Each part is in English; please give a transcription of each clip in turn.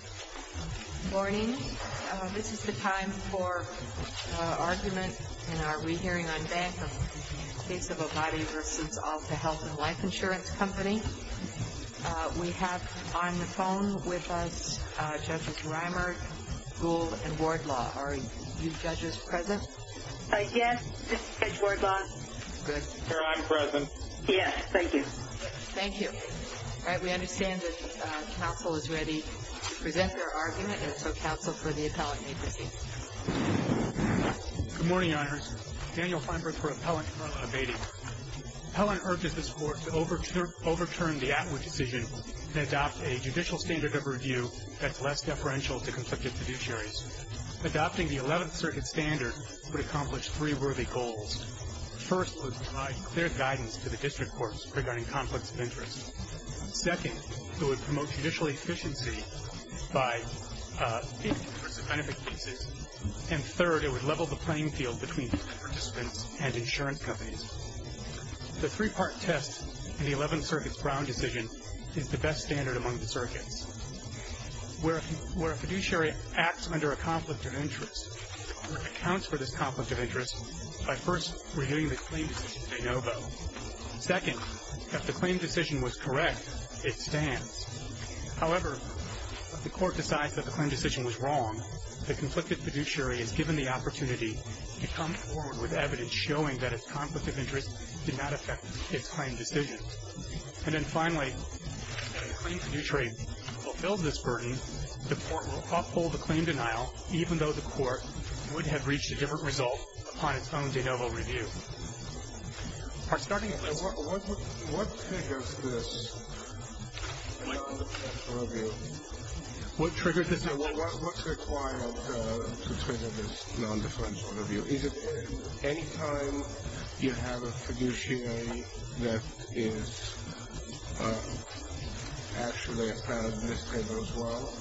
Good morning. This is the time for argument in our re-hearing on bank of case of Abati v. Alta Health & Life Insurance Company. We have on the phone with us Judges Reimer, Gould and Wardlaw. Are you judges present? Yes, this is Judge Wardlaw. Good. Here, I'm present. Yes, thank you. All right, we understand that counsel is ready to present their argument, and so counsel for the appellant may proceed. Good morning, Your Honors. Daniel Feinberg for Appellant from Abati. Appellant urges this Court to overturn the Atwood decision and adopt a judicial standard of review that's less deferential to conflicted fiduciaries. Adopting the Eleventh Circuit standard would accomplish three worthy goals. First, it would provide clear guidance to the District Courts regarding conflicts of interest. Second, it would promote judicial efficiency by increasing the benefit cases. And third, it would level the playing field between participants and insurance companies. The three-part test in the Eleventh Circuit's Brown decision is the best standard among the circuits. Where a fiduciary acts under a conflict of interest, accounts for this conflict of interest by first reviewing the claim decision de novo. Second, if the claim decision was correct, it stands. However, if the Court decides that the claim decision was wrong, the conflicted fiduciary is given the opportunity to come forward with evidence showing that its conflict of interest did not affect its claim decision. And then finally, if the claim fiduciary fulfills this burden, the Court will uphold the claim denial, even though the Court would have reached a different result upon its own de novo review. What triggers this non-deferential review? What triggers this non-deferential review? What's required to trigger this non-deferential review? Is it any time you have a fiduciary that is actually a plan administrator as well?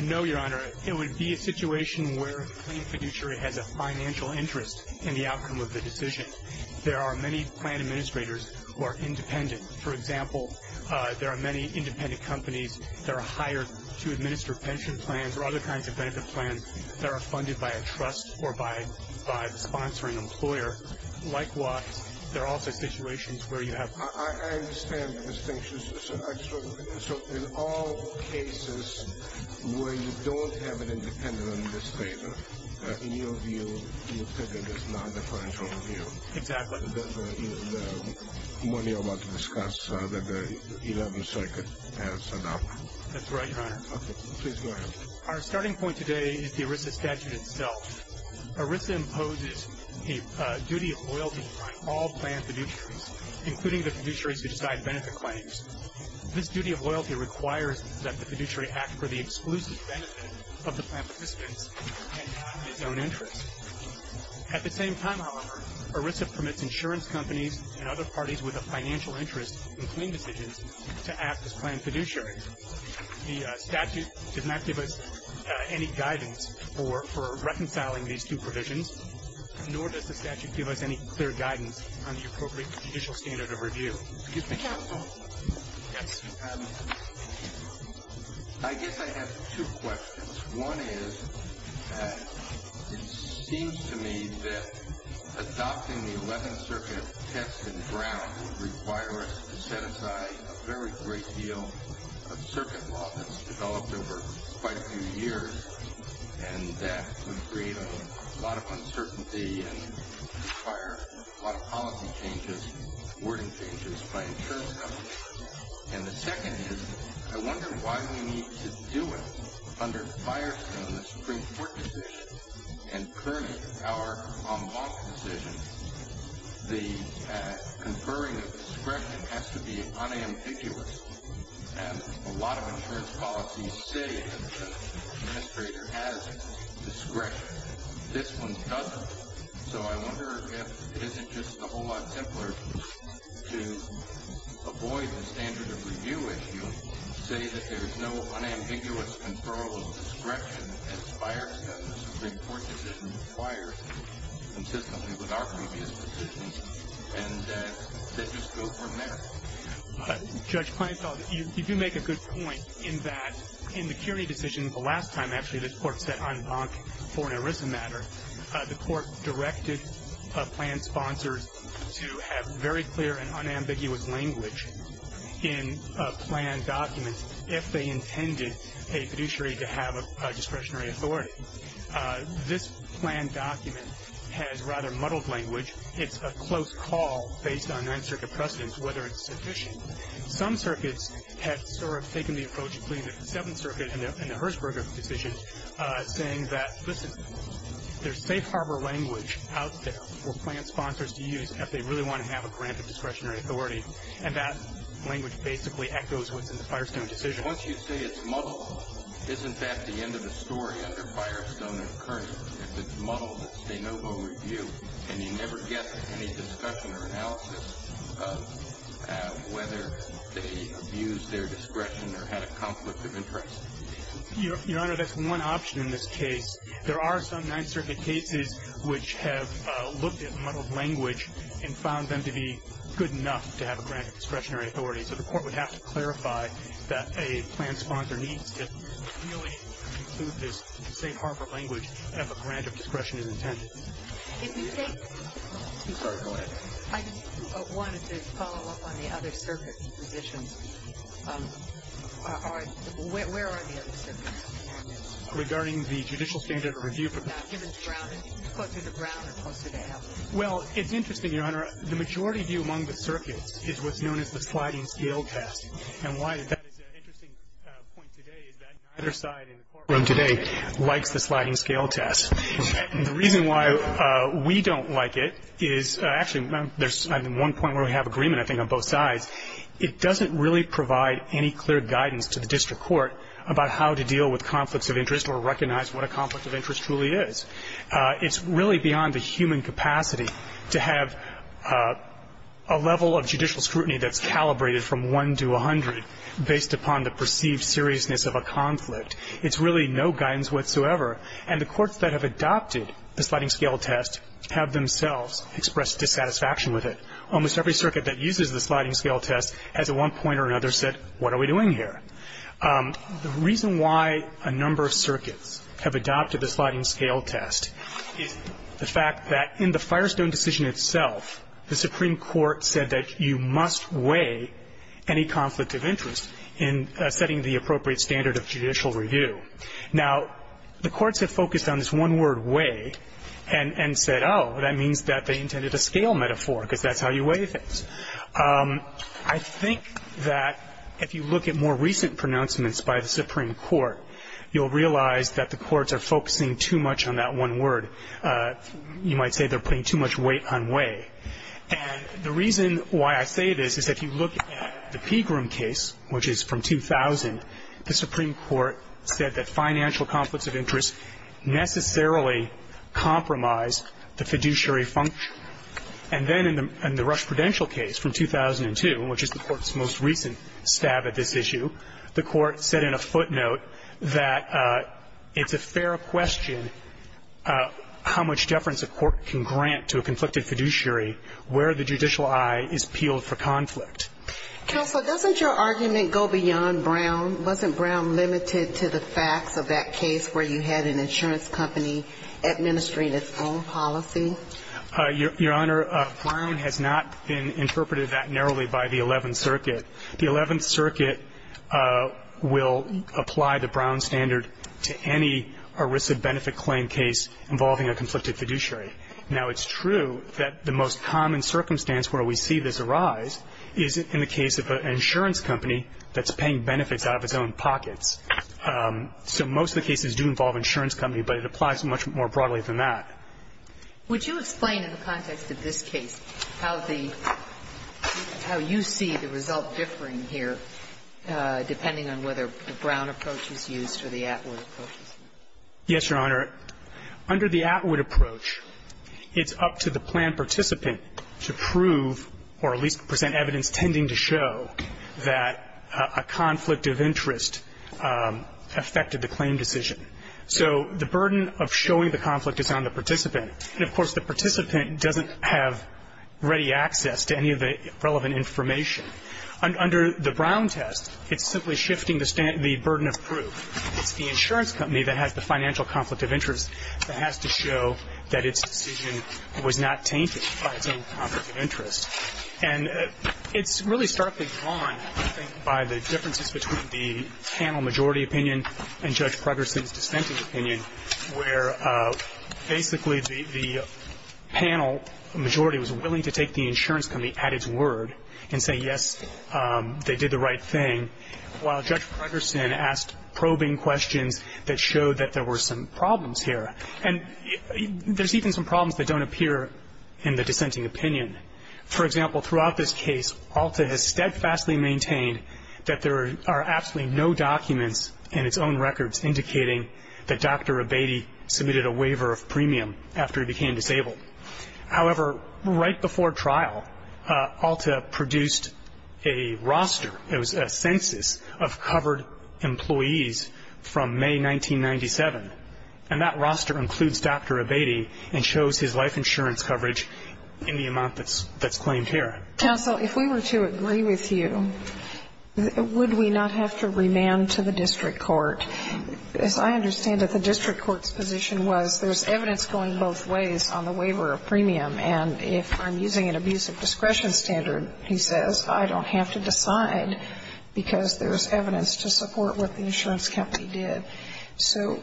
No, Your Honor. It would be a situation where the claim fiduciary has a financial interest in the outcome of the decision. There are many plan administrators who are independent. For example, there are many independent companies that are hired to administer pension plans or other kinds of benefit plans that are funded by a trust or by the sponsoring employer. Likewise, there are also situations where you have... I understand the distinction. So, in all cases where you don't have an independent administrator, in your view, you're putting this non-deferential review. Exactly. The one you're about to discuss that the Eleventh Circuit has adopted. That's right, Your Honor. Okay. Please go ahead. Our starting point today is the ERISA statute itself. ERISA imposes a duty of loyalty upon all plan fiduciaries, including the fiduciaries who decide benefit claims. This duty of loyalty requires that the fiduciary act for the exclusive benefit of the plan participants and not in its own interest. At the same time, however, ERISA permits insurance companies and other parties with a financial interest in claim decisions to act as plan fiduciaries. The statute does not give us any guidance for reconciling these two provisions, nor does the statute give us any clear guidance on the appropriate judicial standard of review. Excuse me. Yes. I guess I have two questions. One is, it seems to me that adopting the Eleventh Circuit test in Brown would require us to set aside a very great deal of circuit law that's developed over quite a few years, and that would create a lot of uncertainty and require a lot of policy changes, wording changes by insurance companies. And the second is, I wonder why we need to do it under Firestone, the Supreme Court decision, and Kerney, our en banc decision. The conferring of discretion has to be unambiguous, and a lot of insurance policies say that the administrator has discretion. This one doesn't. So I wonder if it isn't just a whole lot simpler to avoid the standard of review issue, say that there is no unambiguous control of discretion in Firestone, the Supreme Court decision required consistently with our previous decisions, and then just go from there. Judge Kleinfeld, you do make a good point in that in the Kerney decision the last time, actually, when the court set en banc for an ERISA matter, the court directed plan sponsors to have very clear and unambiguous language in a plan document if they intended a fiduciary to have a discretionary authority. This plan document has rather muddled language. It's a close call based on Ninth Circuit precedents, whether it's sufficient. Some circuits have sort of taken the approach, including the Seventh Circuit and the Herzberg decision, saying that there's safe harbor language out there for plan sponsors to use if they really want to have a grant of discretionary authority, and that language basically echoes what's in the Firestone decision. Once you say it's muddled, isn't that the end of the story under Firestone and Kerney? If it's muddled, it's de novo review, and you never get any discussion or analysis of whether they abused their discretion or had a conflict of interest. Your Honor, that's one option in this case. There are some Ninth Circuit cases which have looked at muddled language and found them to be good enough to have a grant of discretionary authority, so the Court would have to clarify that a plan sponsor needs to really include this safe harbor language as a grant of discretion is intended. If you think to follow up, I just wanted to follow up on the other circuits' positions. Where are the other circuits on this? Regarding the judicial standard of review. Given the ground, closer to ground or closer to heaven? Well, it's interesting, Your Honor. The majority view among the circuits is what's known as the sliding scale test, and why that is an interesting point today is that neither side in the courtroom today likes the sliding scale test. The reason why we don't like it is actually there's one point where we have agreement, I think, on both sides. It doesn't really provide any clear guidance to the district court about how to deal with conflicts of interest or recognize what a conflict of interest truly is. It's really beyond the human capacity to have a level of judicial scrutiny that's calibrated from 1 to 100 based upon the perceived seriousness of a conflict. It's really no guidance whatsoever, and the courts that have adopted the sliding scale test have themselves expressed dissatisfaction with it. Almost every circuit that uses the sliding scale test has at one point or another said, what are we doing here? The reason why a number of circuits have adopted the sliding scale test is the fact that in the Firestone decision itself, the Supreme Court said that you must weigh any conflict of interest in setting the appropriate standard of judicial review. Now, the courts have focused on this one word, weigh, and said, oh, that means that they intended a scale metaphor, because that's how you weigh things. I think that if you look at more recent pronouncements by the Supreme Court, you'll realize that the courts are focusing too much on that one word. You might say they're putting too much weight on weigh. And the reason why I say this is if you look at the Pegram case, which is from 2000, the Supreme Court said that financial conflicts of interest necessarily compromise the fiduciary function. And then in the Rush Prudential case from 2002, which is the court's most recent stab at this issue, the court said in a footnote that it's a fair question how much deference a court can grant to a conflicted fiduciary where the judicial eye is peeled for conflict. Counsel, doesn't your argument go beyond Brown? Wasn't Brown limited to the facts of that case where you had an insurance company administering its own policy? Your Honor, Brown has not been interpreted that narrowly by the Eleventh Circuit. The Eleventh Circuit will apply the Brown standard to any ERISA benefit claim case involving a conflicted fiduciary. Now, it's true that the most common circumstance where we see this arise is in the case of an insurance company that's paying benefits out of its own pockets. So most of the cases do involve an insurance company, but it applies much more broadly than that. Would you explain in the context of this case how the – how you see the result differing here depending on whether the Brown approach is used or the Atwood approach? Yes, Your Honor. Under the Atwood approach, it's up to the planned participant to prove or at least present evidence tending to show that a conflict of interest affected the claim decision. So the burden of showing the conflict is on the participant. And, of course, the participant doesn't have ready access to any of the relevant information. Under the Brown test, it's simply shifting the burden of proof. It's the insurance company that has the financial conflict of interest that has to show that its decision was not tainted by its own conflict of interest. And it's really starkly drawn, I think, by the differences between the panel majority opinion and Judge Progerson's dissenting opinion, where basically the panel majority was willing to take the insurance company at its word and say, yes, they did the right thing, while Judge Progerson asked probing questions that showed that there were some problems here. And there's even some problems that don't appear in the dissenting opinion. For example, throughout this case, Alta has steadfastly maintained that there are absolutely no documents in its own records indicating that Dr. Abatey submitted a waiver of premium after he became disabled. However, right before trial, Alta produced a roster. It was a census of covered employees from May 1997. And that roster includes Dr. Abatey and shows his life insurance coverage in the amount that's claimed here. Sotomayor, if we were to agree with you, would we not have to remand to the district court? As I understand it, the district court's position was there's evidence going both ways on the waiver of premium, and if I'm using an abuse of discretion standard, he says, I don't have to decide because there's evidence to support what the insurance company did. So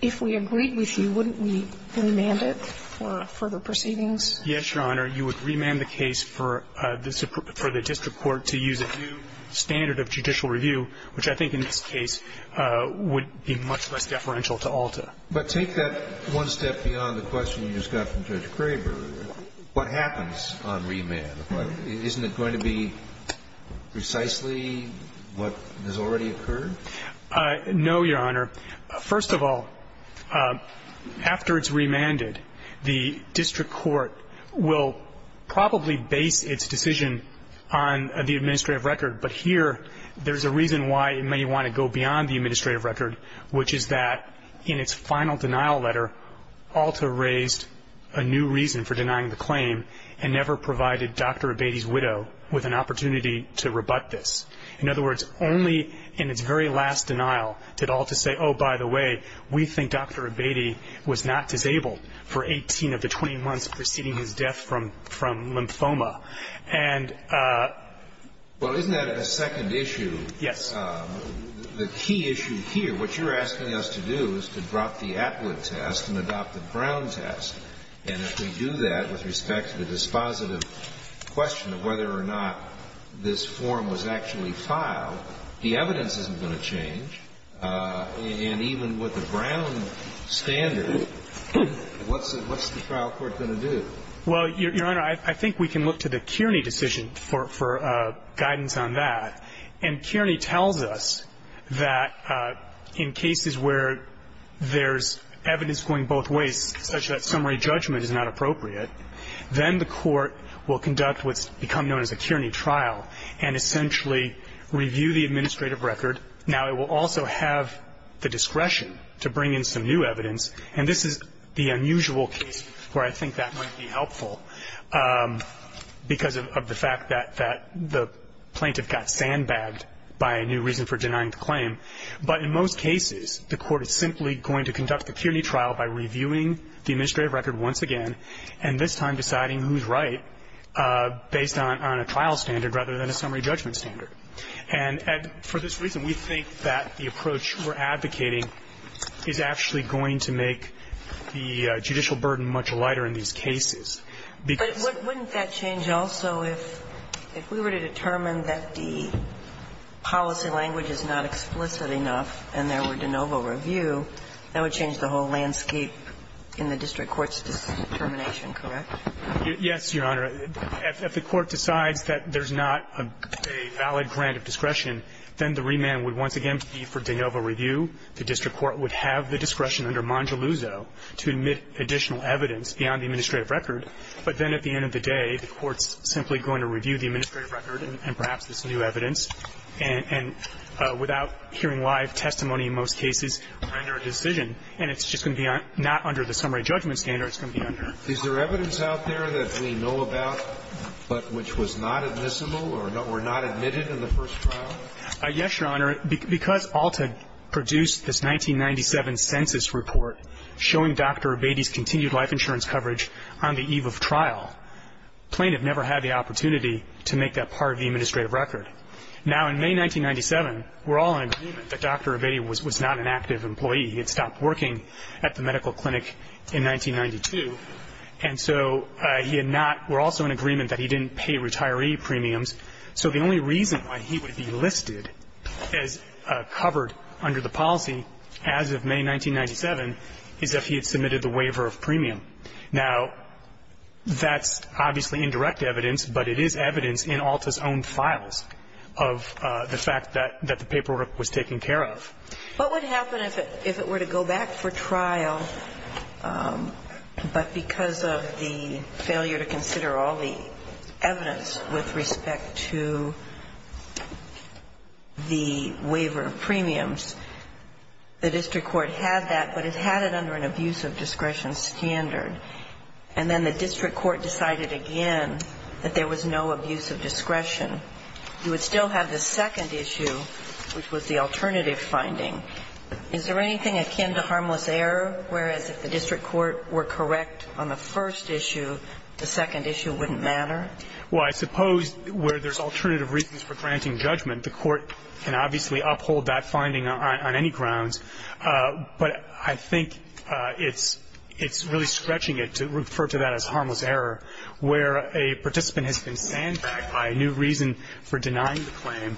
if we agreed with you, wouldn't we remand it for further proceedings? Yes, Your Honor. You would remand the case for the district court to use a new standard of judicial review, which I think in this case would be much less deferential to Alta. But take that one step beyond the question you just got from Judge Kraber. What happens on remand? Isn't it going to be precisely what has already occurred? No, Your Honor. First of all, after it's remanded, the district court will probably base its decision on the administrative record, but here there's a reason why it may want to go beyond the administrative record, which is that in its final denial letter, Alta raised a new reason for denying the claim and never provided Dr. Abatey's widow with an opportunity to rebut this. In other words, only in its very last denial did Alta say, oh, by the way, we think Dr. Abatey was not disabled for 18 of the 20 months preceding his death from lymphoma. And ---- Well, isn't that a second issue? Yes. The key issue here, what you're asking us to do is to drop the Atwood test and adopt the Brown test. And if we do that with respect to the dispositive question of whether or not this form was actually filed, the evidence isn't going to change. And even with the Brown standard, what's the trial court going to do? Well, Your Honor, I think we can look to the Kearney decision for guidance on that. And Kearney tells us that in cases where there's evidence going both ways, such that summary judgment is not appropriate, then the court will conduct what's become known as a Kearney trial and essentially review the administrative record. Now, it will also have the discretion to bring in some new evidence. And this is the unusual case where I think that might be helpful because of the fact that the plaintiff got sandbagged by a new reason for denying the claim. But in most cases, the court is simply going to conduct the Kearney trial by reviewing the administrative record once again, and this time deciding who's right based on a trial standard rather than a summary judgment standard. And for this reason, we think that the approach we're advocating is actually going to make the judicial burden much lighter in these cases. Because But wouldn't that change also if we were to determine that the policy language is not explicit enough and there were de novo review, that would change the whole landscape in the district court's determination, correct? Yes, Your Honor. If the court decides that there's not a valid grant of discretion, then the remand would once again be for de novo review. The district court would have the discretion under Mongeluzzo to admit additional evidence beyond the administrative record. But then at the end of the day, the court's simply going to review the administrative record and perhaps this new evidence, and without hearing live testimony in most cases, render a decision, and it's just going to be not under the summary judgment standard, it's going to be under. Is there evidence out there that we know about but which was not admissible or were not admitted in the first trial? Yes, Your Honor. Because Alt had produced this 1997 census report showing Dr. Abatey's continued life insurance coverage on the eve of trial, plaintiff never had the opportunity to make that part of the administrative record. Now, in May 1997, we're all in agreement that Dr. Abatey was not an active employee. He had stopped working at the medical clinic in 1992. And so he had not – we're also in agreement that he didn't pay retiree premiums. So the only reason why he would be listed as covered under the policy as of May 1997 is if he had submitted the waiver of premium. Now, that's obviously indirect evidence, but it is evidence in Alta's own files of the fact that the paperwork was taken care of. What would happen if it were to go back for trial, but because of the failure to consider all the evidence with respect to the waiver of premiums, the district court had that, but it had it under an abuse of discretion standard. And then the district court decided again that there was no abuse of discretion. You would still have the second issue, which was the alternative finding. Is there anything akin to harmless error, whereas if the district court were correct on the first issue, the second issue wouldn't matter? Well, I suppose where there's alternative reasons for granting judgment, the court can obviously uphold that finding on any grounds. But I think it's really stretching it to refer to that as harmless error, where a participant has been sandbagged by a new reason for denying the claim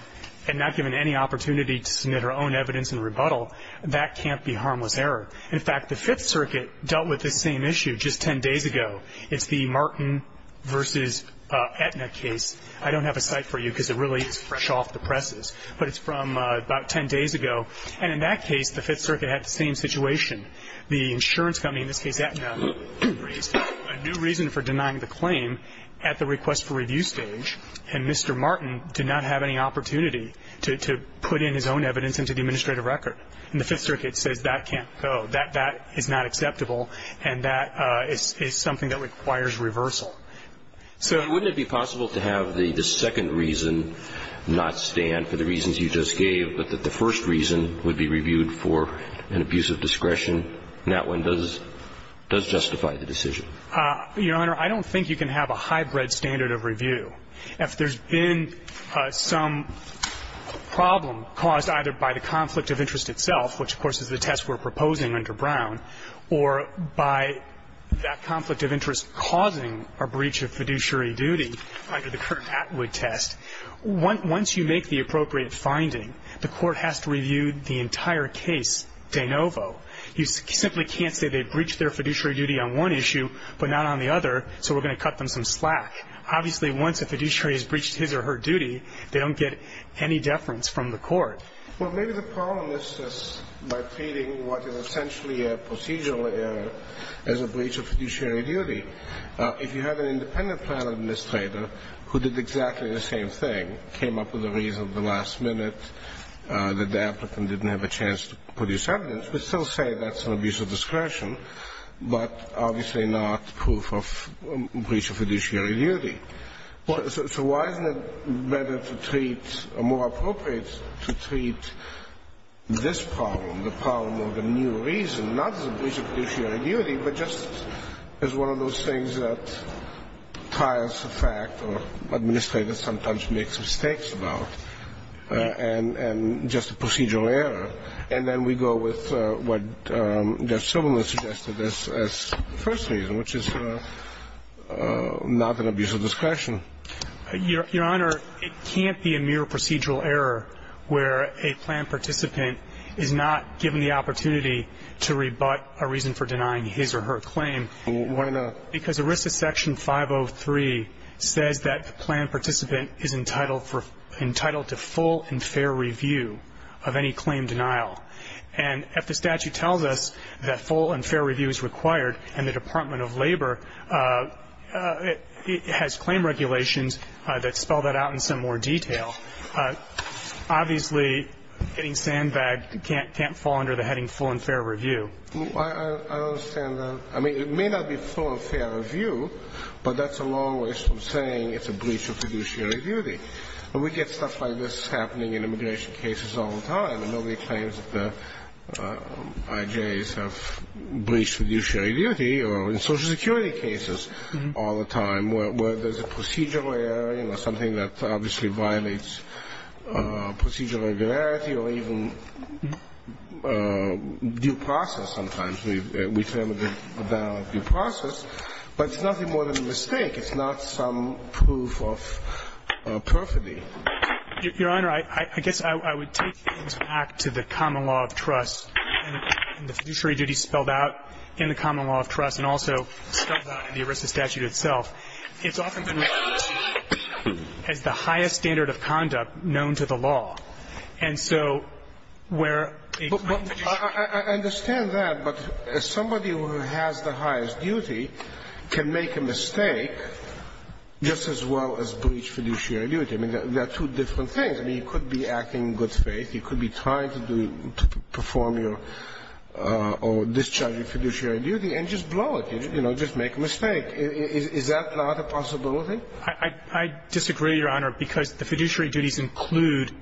and not given any opportunity to submit her own evidence in rebuttal. That can't be harmless error. In fact, the Fifth Circuit dealt with this same issue just 10 days ago. It's the Martin v. Aetna case. I don't have a cite for you because it really is fresh off the presses. But it's from about 10 days ago. And in that case, the Fifth Circuit had the same situation. The insurance company, in this case Aetna, raised a new reason for denying the claim at the request for review stage. And Mr. Martin did not have any opportunity to put in his own evidence into the administrative record. And the Fifth Circuit says that can't go, that is not acceptable, and that is something that requires reversal. So wouldn't it be possible to have the second reason not stand for the reasons you just gave, but that the first reason would be reviewed for an abuse of discretion, and that one does justify the decision? Your Honor, I don't think you can have a hybrid standard of review. If there's been some problem caused either by the conflict of interest itself, which, of course, is the test we're proposing under Brown, or by that conflict of interest causing a breach of fiduciary duty under the current Atwood test, once you make the appropriate finding, the court has to review the entire case de novo. You simply can't say they breached their fiduciary duty on one issue but not on the other, so we're going to cut them some slack. Obviously, once a fiduciary has breached his or her duty, they don't get any deference from the court. Well, maybe the problem is just by treating what is essentially a procedural error as a breach of fiduciary duty. If you have an independent plan administrator who did exactly the same thing, came up with a reason at the last minute that the applicant didn't have a chance to produce evidence, we still say that's an abuse of discretion, but obviously not proof of breach of fiduciary duty. So why isn't it better to treat or more appropriate to treat this problem, the problem of the new reason, not as a breach of fiduciary duty, but just as one of those things that trials of fact or administrators sometimes make some mistakes about and just a procedural error? And then we go with what Judge Silberman suggested as the first reason, which is not an abuse of discretion. Your Honor, it can't be a mere procedural error where a plan participant is not given the opportunity to rebut a reason for denying his or her claim. Why not? Because ERISA Section 503 says that the plan participant is entitled to full and fair review of any claim denial. And if the statute tells us that full and fair review is required in the Department of Labor, it has claim regulations that spell that out in some more detail. Obviously, getting sandbagged can't fall under the heading full and fair review. I understand that. I mean, it may not be full and fair review, but that's a long way from saying it's a breach of fiduciary duty. And we get stuff like this happening in immigration cases all the time, and nobody claims that the IJs have breached fiduciary duty or in Social Security cases all the time. It's just procedural irregularity or even due process sometimes. We claim a valid due process. But it's nothing more than a mistake. It's not some proof of perfidy. Your Honor, I guess I would take things back to the common law of trust and the fiduciary duty spelled out in the common law of trust and also spelled out in the ERISA statute itself. It's often been mentioned as the highest standard of conduct known to the law. And so where a claim fiduciary duty is. I understand that. But somebody who has the highest duty can make a mistake just as well as breach fiduciary duty. I mean, there are two different things. I mean, you could be acting in good faith. You could be trying to perform your or discharge your fiduciary duty and just blow it, you know, just make a mistake. Is that not a possibility? I disagree, Your Honor, because the fiduciary duties include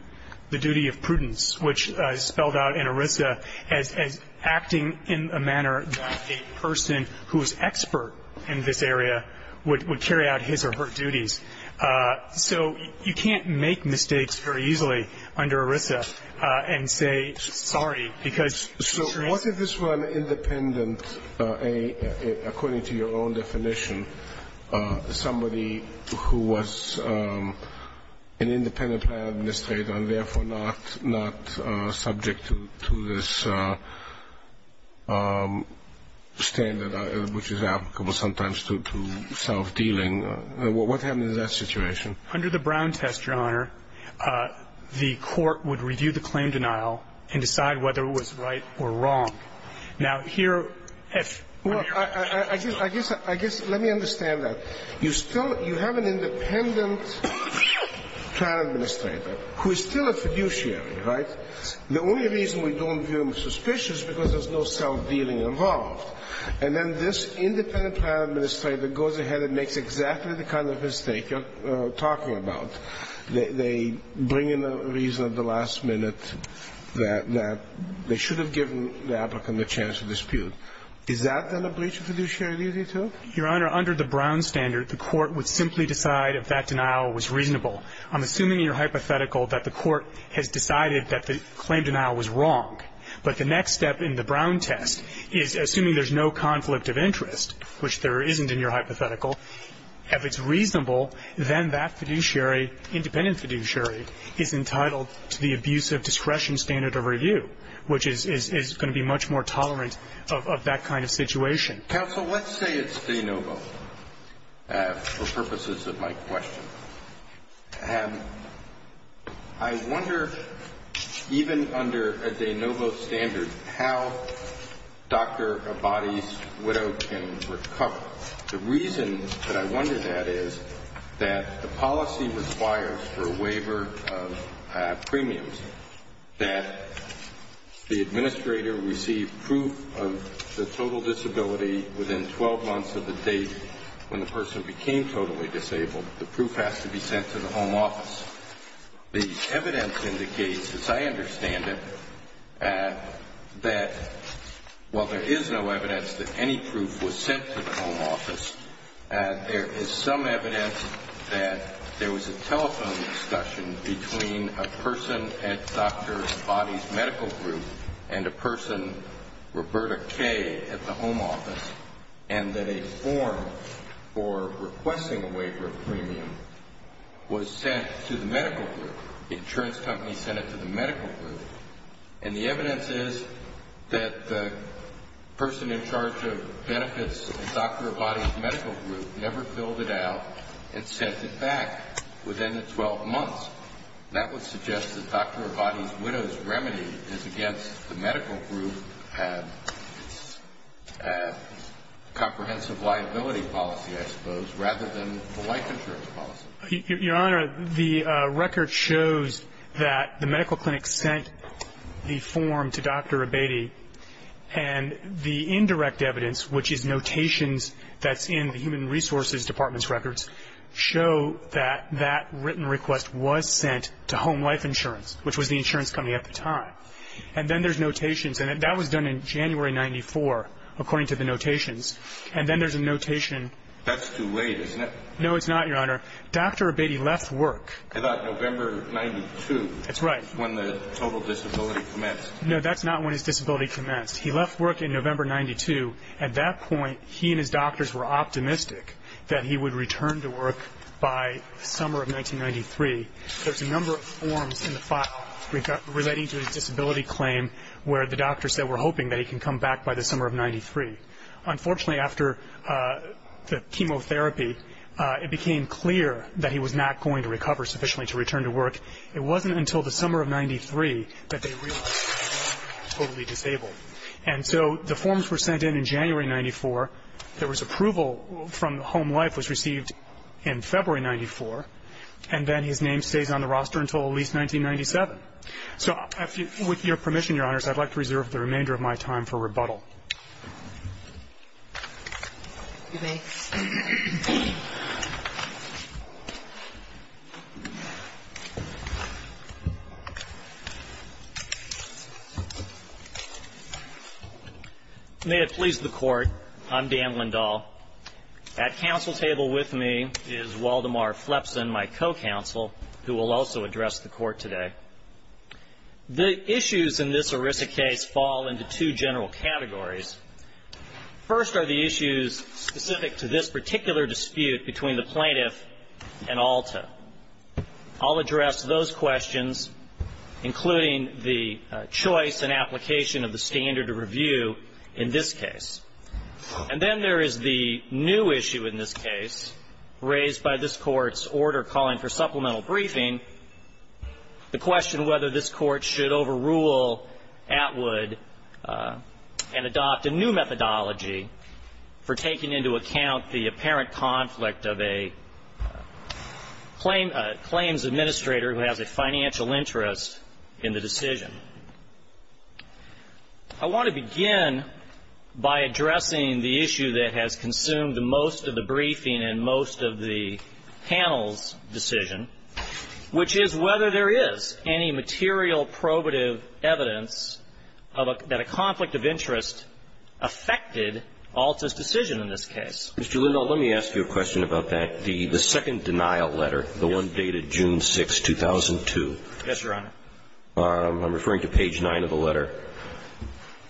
the duty of prudence, which is spelled out in ERISA as acting in a manner that a person who is expert in this area would carry out his or her duties. So you can't make mistakes very easily under ERISA and say, sorry, because So what if this were an independent, according to your own definition, somebody who was an independent plan administrator and therefore not subject to this standard which is applicable sometimes to self-dealing? What happened in that situation? Under the Brown test, Your Honor, the court would review the claim denial and decide whether it was right or wrong. Now, here, if you're Well, I guess let me understand that. You still have an independent plan administrator who is still a fiduciary, right? The only reason we don't view him suspicious is because there's no self-dealing involved. And then this independent plan administrator goes ahead and makes exactly the kind of mistake you're talking about. They bring in a reason at the last minute that they should have given the applicant the chance to dispute. Is that then a breach of fiduciary duty, too? Your Honor, under the Brown standard, the court would simply decide if that denial was reasonable. I'm assuming in your hypothetical that the court has decided that the claim denial was wrong. But the next step in the Brown test is, assuming there's no conflict of interest, which there isn't in your hypothetical, if it's reasonable, then that fiduciary, independent fiduciary, is entitled to the abuse of discretion standard of review, which is going to be much more tolerant of that kind of situation. Counsel, let's say it's de novo for purposes of my question. I wonder, even under a de novo standard, how Dr. Abadi's widow can recover. The reason that I wonder that is that the policy requires for a waiver of premiums that the administrator receive proof of the total disability within 12 months of the date when the person became totally disabled, the proof has to be sent to the home office. The evidence indicates, as I understand it, that while there is no evidence that any proof was sent to the home office, there is some evidence that there was a telephone discussion between a person at Dr. Abadi's medical group and a person, Roberta Kay, at the home office, and that a form for requesting a waiver of premium was sent to the medical group. The insurance company sent it to the medical group. And the evidence is that the person in charge of benefits at Dr. Abadi's medical group never filled it out and sent it back within the 12 months. That would suggest that Dr. Abadi's widow's remedy is against the medical group comprehensive liability policy, I suppose, rather than the life insurance policy. Your Honor, the record shows that the medical clinic sent the form to Dr. Abadi, and the indirect evidence, which is notations that's in the Human Resources Department's records, show that that written request was sent to Home Life Insurance, which was the insurance company at the time. And then there's notations, and that was done in January 1994, according to the notations. And then there's a notation. No, it's not, Your Honor. Dr. Abadi left work. No, that's not when his disability commenced. He left work in November 1992. At that point, he and his doctors were optimistic that he would return to work by the summer of 1993. There's a number of forms in the file relating to his disability claim where the doctors said we're hoping that he can come back by the summer of 93. Unfortunately, after the chemotherapy, it became clear that he was not going to recover sufficiently to return to work. It wasn't until the summer of 93 that they realized that he was totally disabled. And so the forms were sent in in January 94. There was approval from Home Life, which was received in February 94. And then his name stays on the roster until at least 1997. So with your permission, Your Honors, I'd like to reserve the remainder of my time for rebuttal. Thank you. May it please the Court, I'm Dan Lindahl. At counsel table with me is Waldemar Flepsen, my co-counsel, who will also address the Court today. The issues in this ERISA case fall into two general categories. First are the issues specific to this particular dispute between the plaintiff and Alta. I'll address those questions, including the choice and application of the standard of review in this case. And then there is the new issue in this case raised by this Court's order calling for supplemental briefing. The question whether this Court should overrule Atwood and adopt a new methodology for taking into account the apparent conflict of a claims administrator who has a financial interest in the decision. I want to begin by addressing the issue that has consumed most of the briefing and most of the panel's decision. Which is whether there is any material probative evidence that a conflict of interest affected Alta's decision in this case. Mr. Lindahl, let me ask you a question about that. The second denial letter, the one dated June 6, 2002. Yes, Your Honor. I'm referring to page 9 of the letter.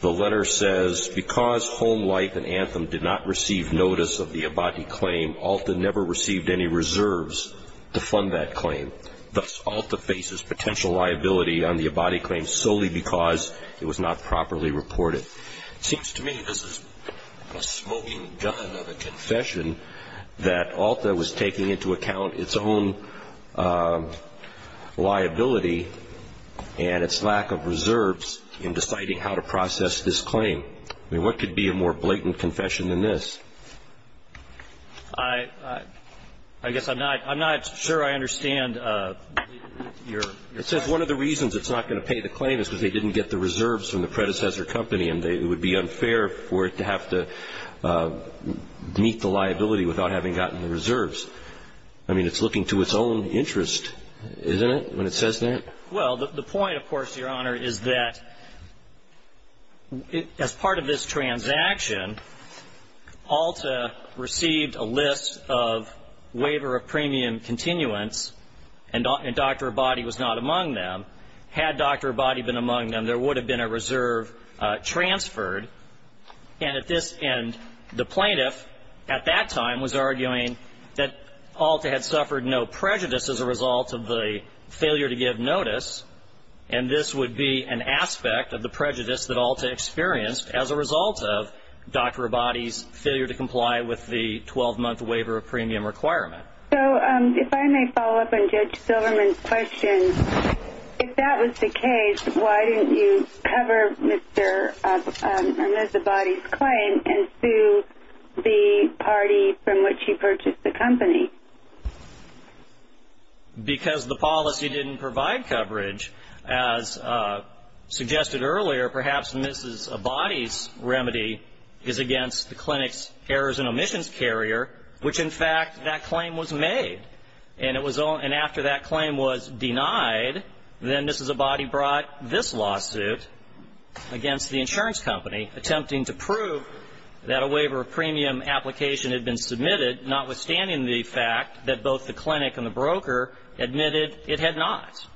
The letter says, because Home Life and Anthem did not receive notice of the Abati claim, Alta never received any reserves to fund that claim. Thus, Alta faces potential liability on the Abati claim solely because it was not properly reported. It seems to me this is a smoking gun of a confession that Alta was taking into account its own liability and its lack of reserves in deciding how to process this claim. I mean, what could be a more blatant confession than this? I guess I'm not sure I understand your question. It says one of the reasons it's not going to pay the claim is because they didn't get the reserves from the predecessor company and it would be unfair for it to have to meet the liability without having gotten the reserves. I mean, it's looking to its own interest, isn't it, when it says that? Well, the point, of course, Your Honor, is that as part of this transaction, Alta received a list of waiver of premium continuance and Dr. Abati was not among them. Had Dr. Abati been among them, there would have been a reserve transferred. And at this end, the plaintiff at that time was arguing that Alta had suffered no prejudice as a result of the failure to give notice, and this would be an aspect of the prejudice that Alta experienced as a result of Dr. Abati's failure to comply with the 12-month waiver of premium requirement. So if I may follow up on Judge Silverman's question. If that was the case, why didn't you cover Mr. or Ms. Abati's claim and sue the party from which he purchased the company? Because the policy didn't provide coverage. As suggested earlier, perhaps Ms. Abati's remedy is against the clinic's errors and omissions carrier, which in fact that claim was made, and after that claim was denied, then Ms. Abati brought this lawsuit against the insurance company, attempting to prove that a waiver of premium application had been submitted, notwithstanding the fact that both the clinic and the broker admitted it had not.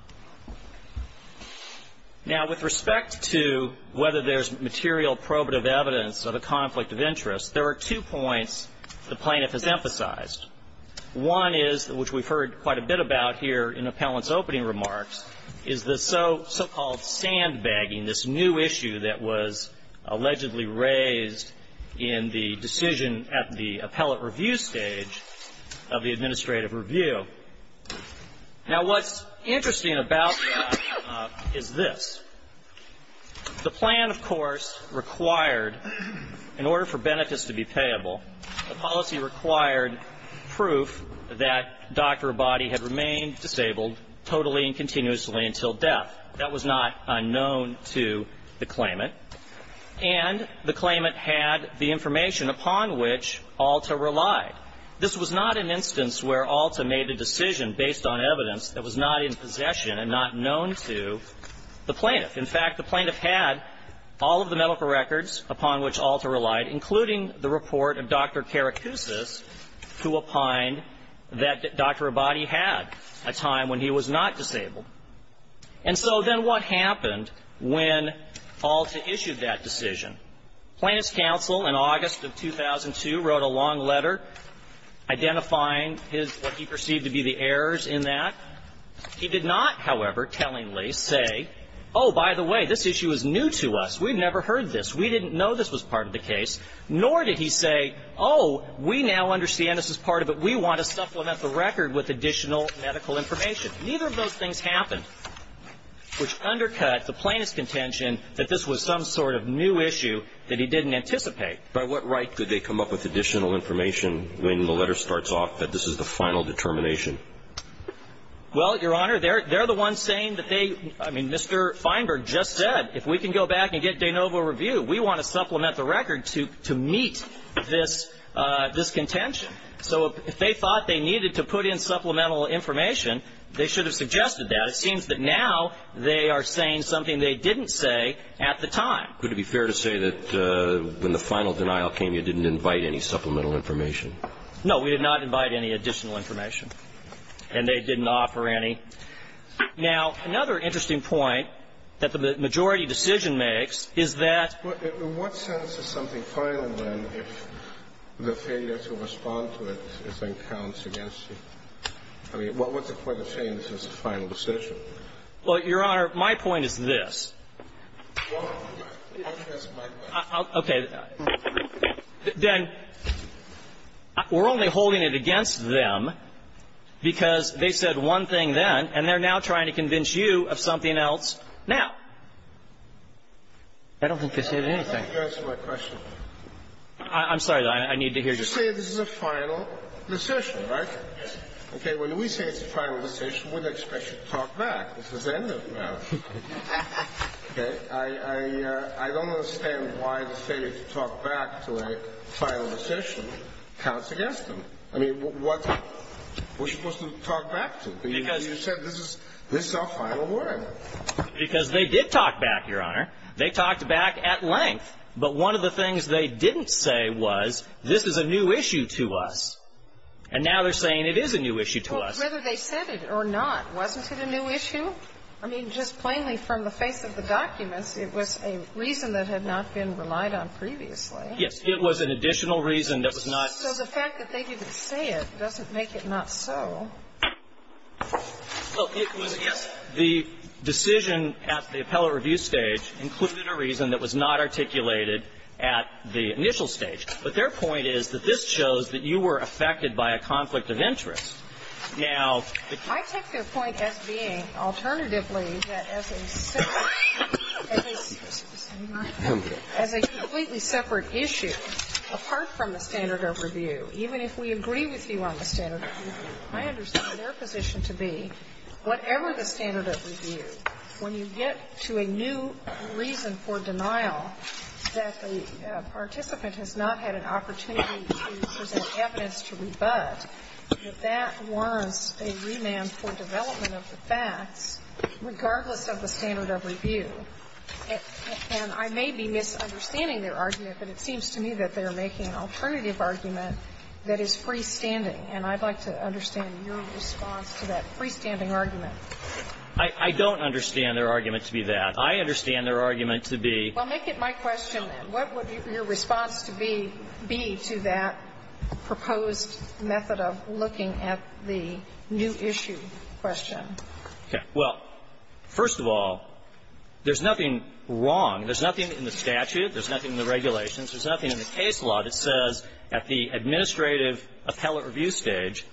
Now, with respect to whether there's material probative evidence of a conflict of interest, there are two points the plaintiff has emphasized. One is, which we've heard quite a bit about here in Appellant's opening remarks, is the so-called sandbagging, this new issue that was allegedly raised in the decision at the appellate review stage of the administrative review. Now, what's interesting about that is this. The plan, of course, required, in order for benefits to be payable, the policy required proof that Dr. Abati had remained disabled totally and continuously until death. That was not unknown to the claimant. And the claimant had the information upon which Alta relied. This was not an instance where Alta made a decision based on evidence that was not in possession and not known to the plaintiff. In fact, the plaintiff had all of the medical records upon which Alta relied, including the report of Dr. Karacousis, who opined that Dr. Abati had a time when he was not disabled. And so then what happened when Alta issued that decision? Plaintiff's counsel in August of 2002 wrote a long letter identifying his, what he perceived to be the errors in that. He did not, however, tellingly say, oh, by the way, this issue is new to us. We've never heard this. We didn't know this was part of the case. Nor did he say, oh, we now understand this is part of it. We want to supplement the record with additional medical information. Neither of those things happened, which undercut the plaintiff's contention that this was some sort of new issue that he didn't anticipate. By what right did they come up with additional information when the letter starts off that this is the final determination? Well, Your Honor, they're the ones saying that they, I mean, Mr. Feinberg just said, if we can go back and get de novo review, we want to supplement the record to meet this contention. So if they thought they needed to put in supplemental information, they should have suggested that. It seems that now they are saying something they didn't say at the time. Could it be fair to say that when the final denial came, you didn't invite any supplemental information? No, we did not invite any additional information, and they didn't offer any. Now, another interesting point that the majority decision makes is that the majority of the decision is unbalanced against you. I mean, what's the point of saying this is the final decision? Well, Your Honor, my point is this. Okay. Then we're only holding it against them because they said one thing then, and they're now trying to convince you of something else now. I don't think they said anything. Why don't you answer my question? I'm sorry, though. I need to hear your question. You say this is a final decision, right? Yes. Okay. When we say it's a final decision, we don't expect you to talk back. This is the end of it now. Okay. I don't understand why the State, if you talk back to a final decision, counts against them. I mean, what are we supposed to talk back to? Because you said this is our final word. Because they did talk back, Your Honor. They talked back at length. But one of the things they didn't say was this is a new issue to us. And now they're saying it is a new issue to us. Well, whether they said it or not, wasn't it a new issue? I mean, just plainly from the face of the documents, it was a reason that had not been relied on previously. Yes. It was an additional reason that was not. So the fact that they didn't say it doesn't make it not so. Well, the decision at the appellate review stage included a reason that was not articulated at the initial stage. But their point is that this shows that you were affected by a conflict of interest. Now the ---- I take their point as being, alternatively, that as a separate issue, as a completely separate issue, apart from the standard of review, even if we agree with you on the standard of review, I understand their position to be, whatever the standard of review, when you get to a new reason for denial that the participant has not had an opportunity to present evidence to rebut, that that warrants a remand for development of the facts, regardless of the standard of review. And I may be misunderstanding their argument, but it seems to me that they are making an alternative argument that is freestanding. And I'd like to understand your response to that freestanding argument. I don't understand their argument to be that. I understand their argument to be ---- Well, make it my question, then. What would your response to be to that proposed method of looking at the new issue question? Okay. Well, first of all, there's nothing wrong. There's nothing in the statute. There's nothing in the regulations. There's nothing in the case law that says at the administrative appellate review stage,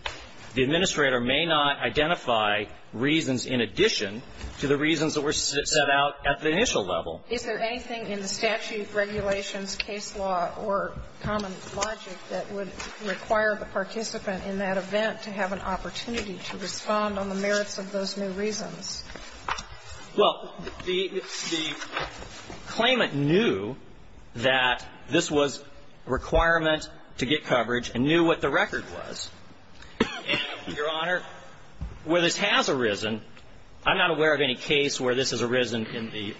the administrator may not identify reasons in addition to the reasons that were set out at the initial level. Is there anything in the statute, regulations, case law, or common logic that would require the participant in that event to have an opportunity to respond on the merits of those new reasons? Well, the claimant knew that this was a requirement to get coverage and knew what the record was. And, Your Honor, where this has arisen, I'm not aware of any case where this has arisen in the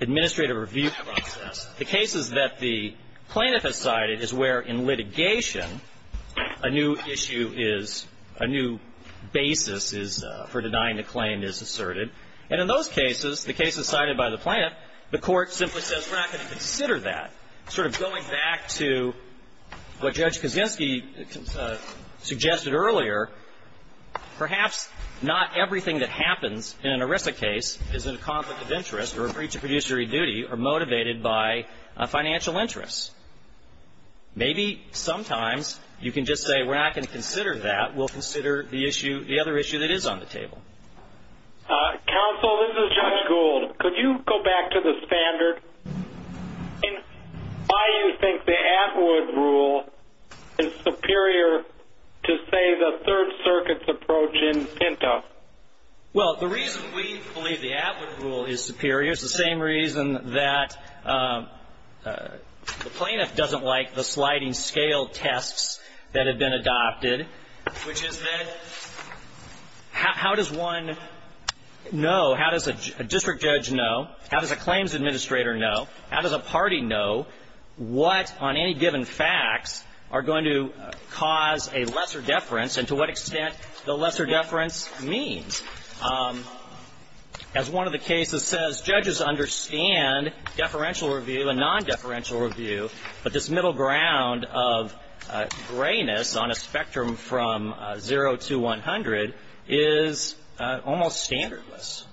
administrative review process. The cases that the plaintiff has cited is where in litigation a new issue is, a new basis is, for denying the claim is asserted. And in those cases, the cases cited by the plaintiff, the court simply says we're not going to consider that. Sort of going back to what Judge Kaczynski suggested earlier, perhaps not everything that happens in an ERISA case is in a conflict of interest or a breach of fiduciary duty or motivated by financial interests. Maybe sometimes you can just say we're not going to consider that. We'll consider the other issue that is on the table. Counsel, this is Judge Gould. Could you go back to the standard? Why do you think the Atwood Rule is superior to, say, the Third Circuit's approach in PINTA? Well, the reason we believe the Atwood Rule is superior is the same reason that the Atwood Rule is superior, which is that how does one know, how does a district judge know, how does a claims administrator know, how does a party know what on any given facts are going to cause a lesser deference and to what extent the lesser deference means? As one of the cases says, judges understand deferential review and non-deferential review, but this middle ground of grayness on a spectrum from 0 to 100 is almost standardless.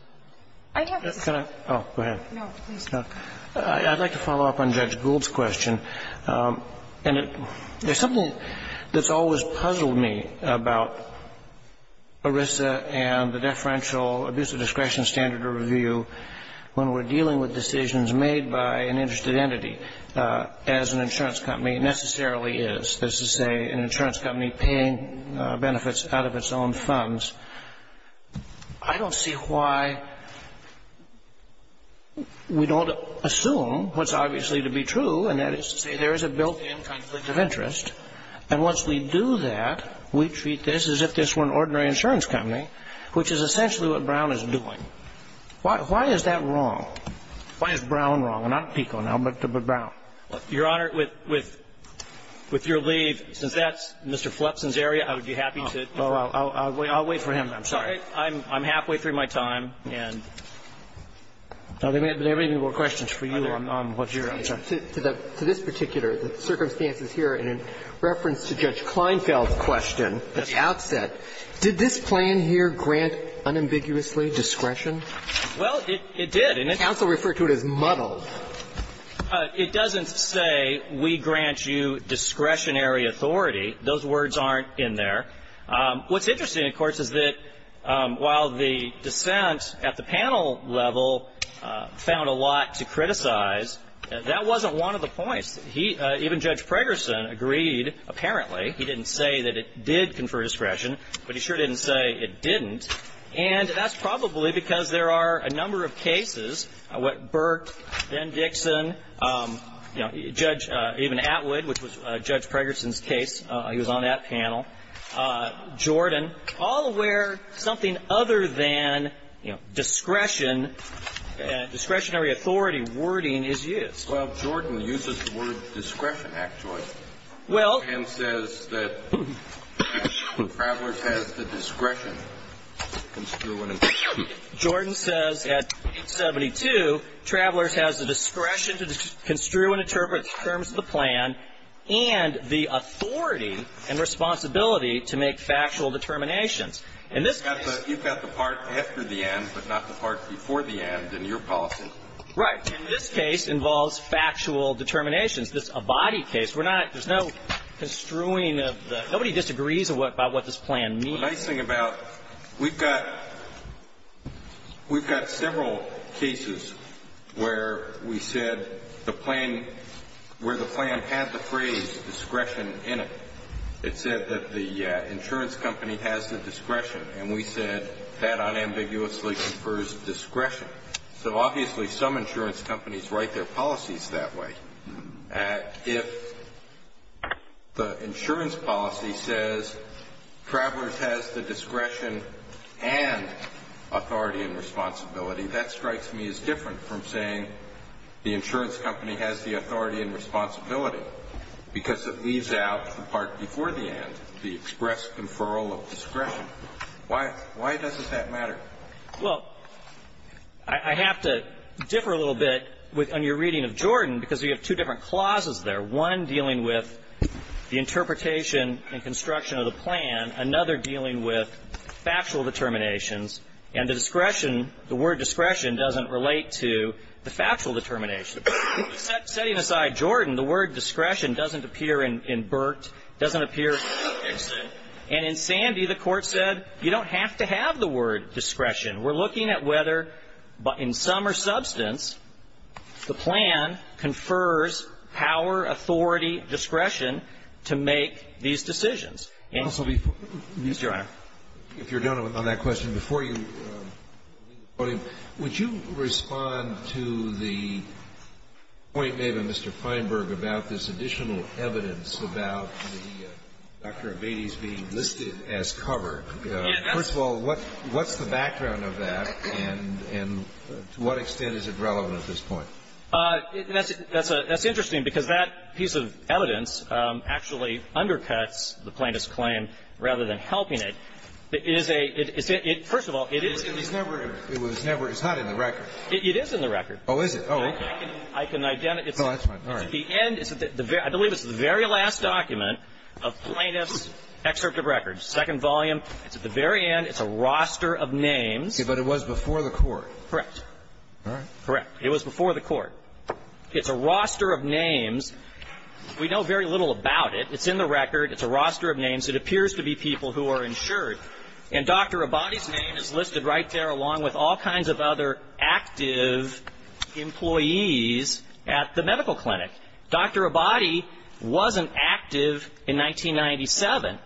I'd like to follow up on Judge Gould's question. And there's something that's always puzzled me about ERISA and the deferential standard of review when we're dealing with decisions made by an interested entity, as an insurance company necessarily is. This is, say, an insurance company paying benefits out of its own funds. I don't see why we don't assume what's obviously to be true, and that is to say there is a built-in conflict of interest, and once we do that, we treat this as if this were an ordinary insurance company, which is essentially what Brown is doing. Why is that wrong? Why is Brown wrong? I'm not PICO now, but Brown. Your Honor, with your leave, since that's Mr. Flepson's area, I would be happy to do that. I'll wait for him. I'm sorry. I'm halfway through my time. Are there any more questions for you on what's your answer? To this particular, the circumstances here, in reference to Judge Kleinfeld's question at the outset, did this plan here grant unambiguously discretion? Well, it did. Counsel referred to it as muddled. It doesn't say we grant you discretionary authority. Those words aren't in there. What's interesting, of course, is that while the dissent at the panel level found a lot to criticize, that wasn't one of the points. He, even Judge Pregerson, agreed, apparently. He didn't say that it did confer discretion, but he sure didn't say it didn't. And that's probably because there are a number of cases where Burke, Ben Dixon, you know, Judge, even Atwood, which was Judge Pregerson's case, he was on that panel, Jordan, all where something other than, you know, discretion, discretionary authority wording is used. Well, Jordan uses the word discretion, actually. Well. And says that Travelers has the discretion to construe and interpret. Jordan says at 72, Travelers has the discretion to construe and interpret the terms of the plan and the authority and responsibility to make factual determinations. In this case. You've got the part after the end, but not the part before the end in your policy. Right. In this case involves factual determinations. This Abadi case, we're not, there's no construing of the, nobody disagrees about what this plan means. The nice thing about, we've got, we've got several cases where we said the plan, where the plan had the phrase discretion in it. It said that the insurance company has the discretion, and we said that unambiguously confers discretion. So obviously some insurance companies write their policies that way. If the insurance policy says Travelers has the discretion and authority and responsibility, that strikes me as different from saying the insurance company has the authority and responsibility because it leaves out the part before the end, the express conferral of discretion. Why doesn't that matter? Well, I have to differ a little bit on your reading of Jordan because you have two different clauses there. One dealing with the interpretation and construction of the plan. Another dealing with factual determinations. And the discretion, the word discretion doesn't relate to the factual determination. Setting aside Jordan, the word discretion doesn't appear in Burt, doesn't appear in Sandi. Obviously the Court said you don't have to have the word discretion. We're looking at whether, in sum or substance, the plan confers power, authority, discretion to make these decisions. And, Mr. Honor. If you're done on that question, before you leave the podium, would you respond to the point made by Mr. Feinberg about this additional evidence about the Dr. Avedis being listed as cover? First of all, what's the background of that and to what extent is it relevant at this point? That's interesting because that piece of evidence actually undercuts the plaintiff's claim rather than helping it. It is a – first of all, it is – It was never – it's not in the record. It is in the record. Oh, is it? Oh, okay. I can identify – No, that's fine. All right. It's in the record. At the end – I believe it's the very last document of plaintiff's excerpt of records, second volume. It's at the very end. It's a roster of names. Okay. But it was before the Court. Correct. All right. Correct. It was before the Court. It's a roster of names. We know very little about it. It's in the record. It's a roster of names. It appears to be people who are insured. And Dr. Avedis' name is listed right there along with all kinds of other active employees at the medical clinic. Dr. Abadi wasn't active in 1997.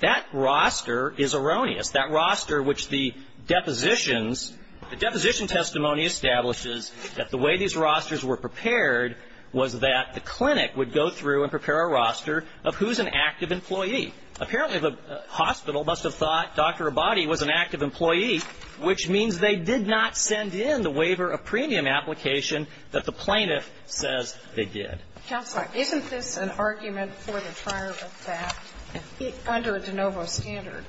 That roster is erroneous, that roster which the depositions – the deposition testimony establishes that the way these rosters were prepared was that the clinic would go through and prepare a roster of who's an active employee. Apparently, the hospital must have thought Dr. Abadi was an active employee, which means they did not send in the waiver of premium application that the plaintiff says they did. Counselor, isn't this an argument for the trier of fact under a de novo standard?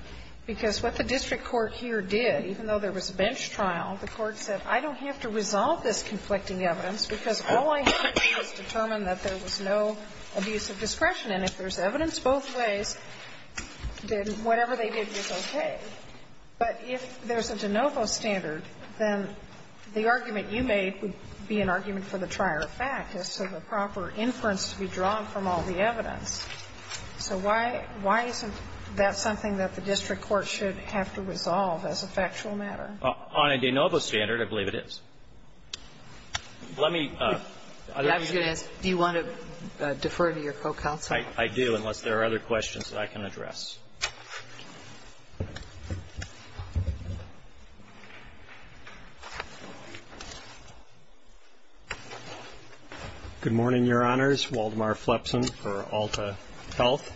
Because what the district court here did, even though there was a bench trial, the court said, I don't have to resolve this conflicting evidence because all I have to do is determine that there was no abuse of discretion. And if there's evidence both ways, then whatever they did was okay. But if there's a de novo standard, then the argument you made would be an argument for the trier of fact as to the proper inference to be drawn from all the evidence. So why isn't that something that the district court should have to resolve as a factual matter? On a de novo standard, I believe it is. Let me – I was going to ask, do you want to defer to your co-counsel? I do, unless there are other questions that I can address. Good morning, Your Honors. Waldemar Flepsen for Alta Health.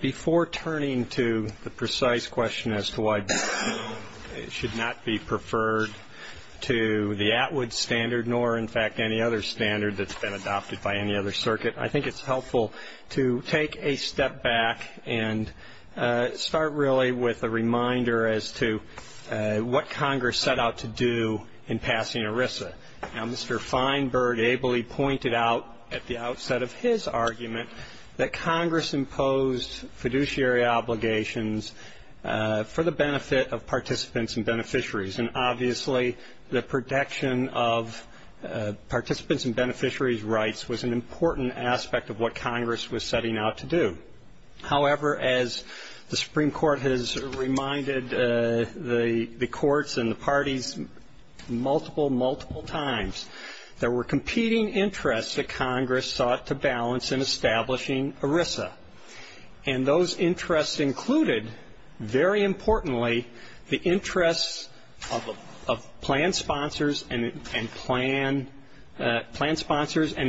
Before turning to the precise question as to why it should not be preferred to the Atwood standard, nor, in fact, any other standard that's been adopted by any other circuit, I think it's helpful to take a step back and start, really, with a reminder as to what Congress set out to do in passing ERISA. Now, Mr. Feinberg ably pointed out at the outset of his argument that Congress imposed fiduciary obligations for the benefit of participants and beneficiaries. And, obviously, the protection of participants' and beneficiaries' rights was an important aspect of what Congress was setting out to do. However, as the Supreme Court has reminded the courts and the parties multiple, multiple times, there were competing interests that Congress sought to balance in establishing ERISA. And those interests included, very importantly, the interests of plan sponsors and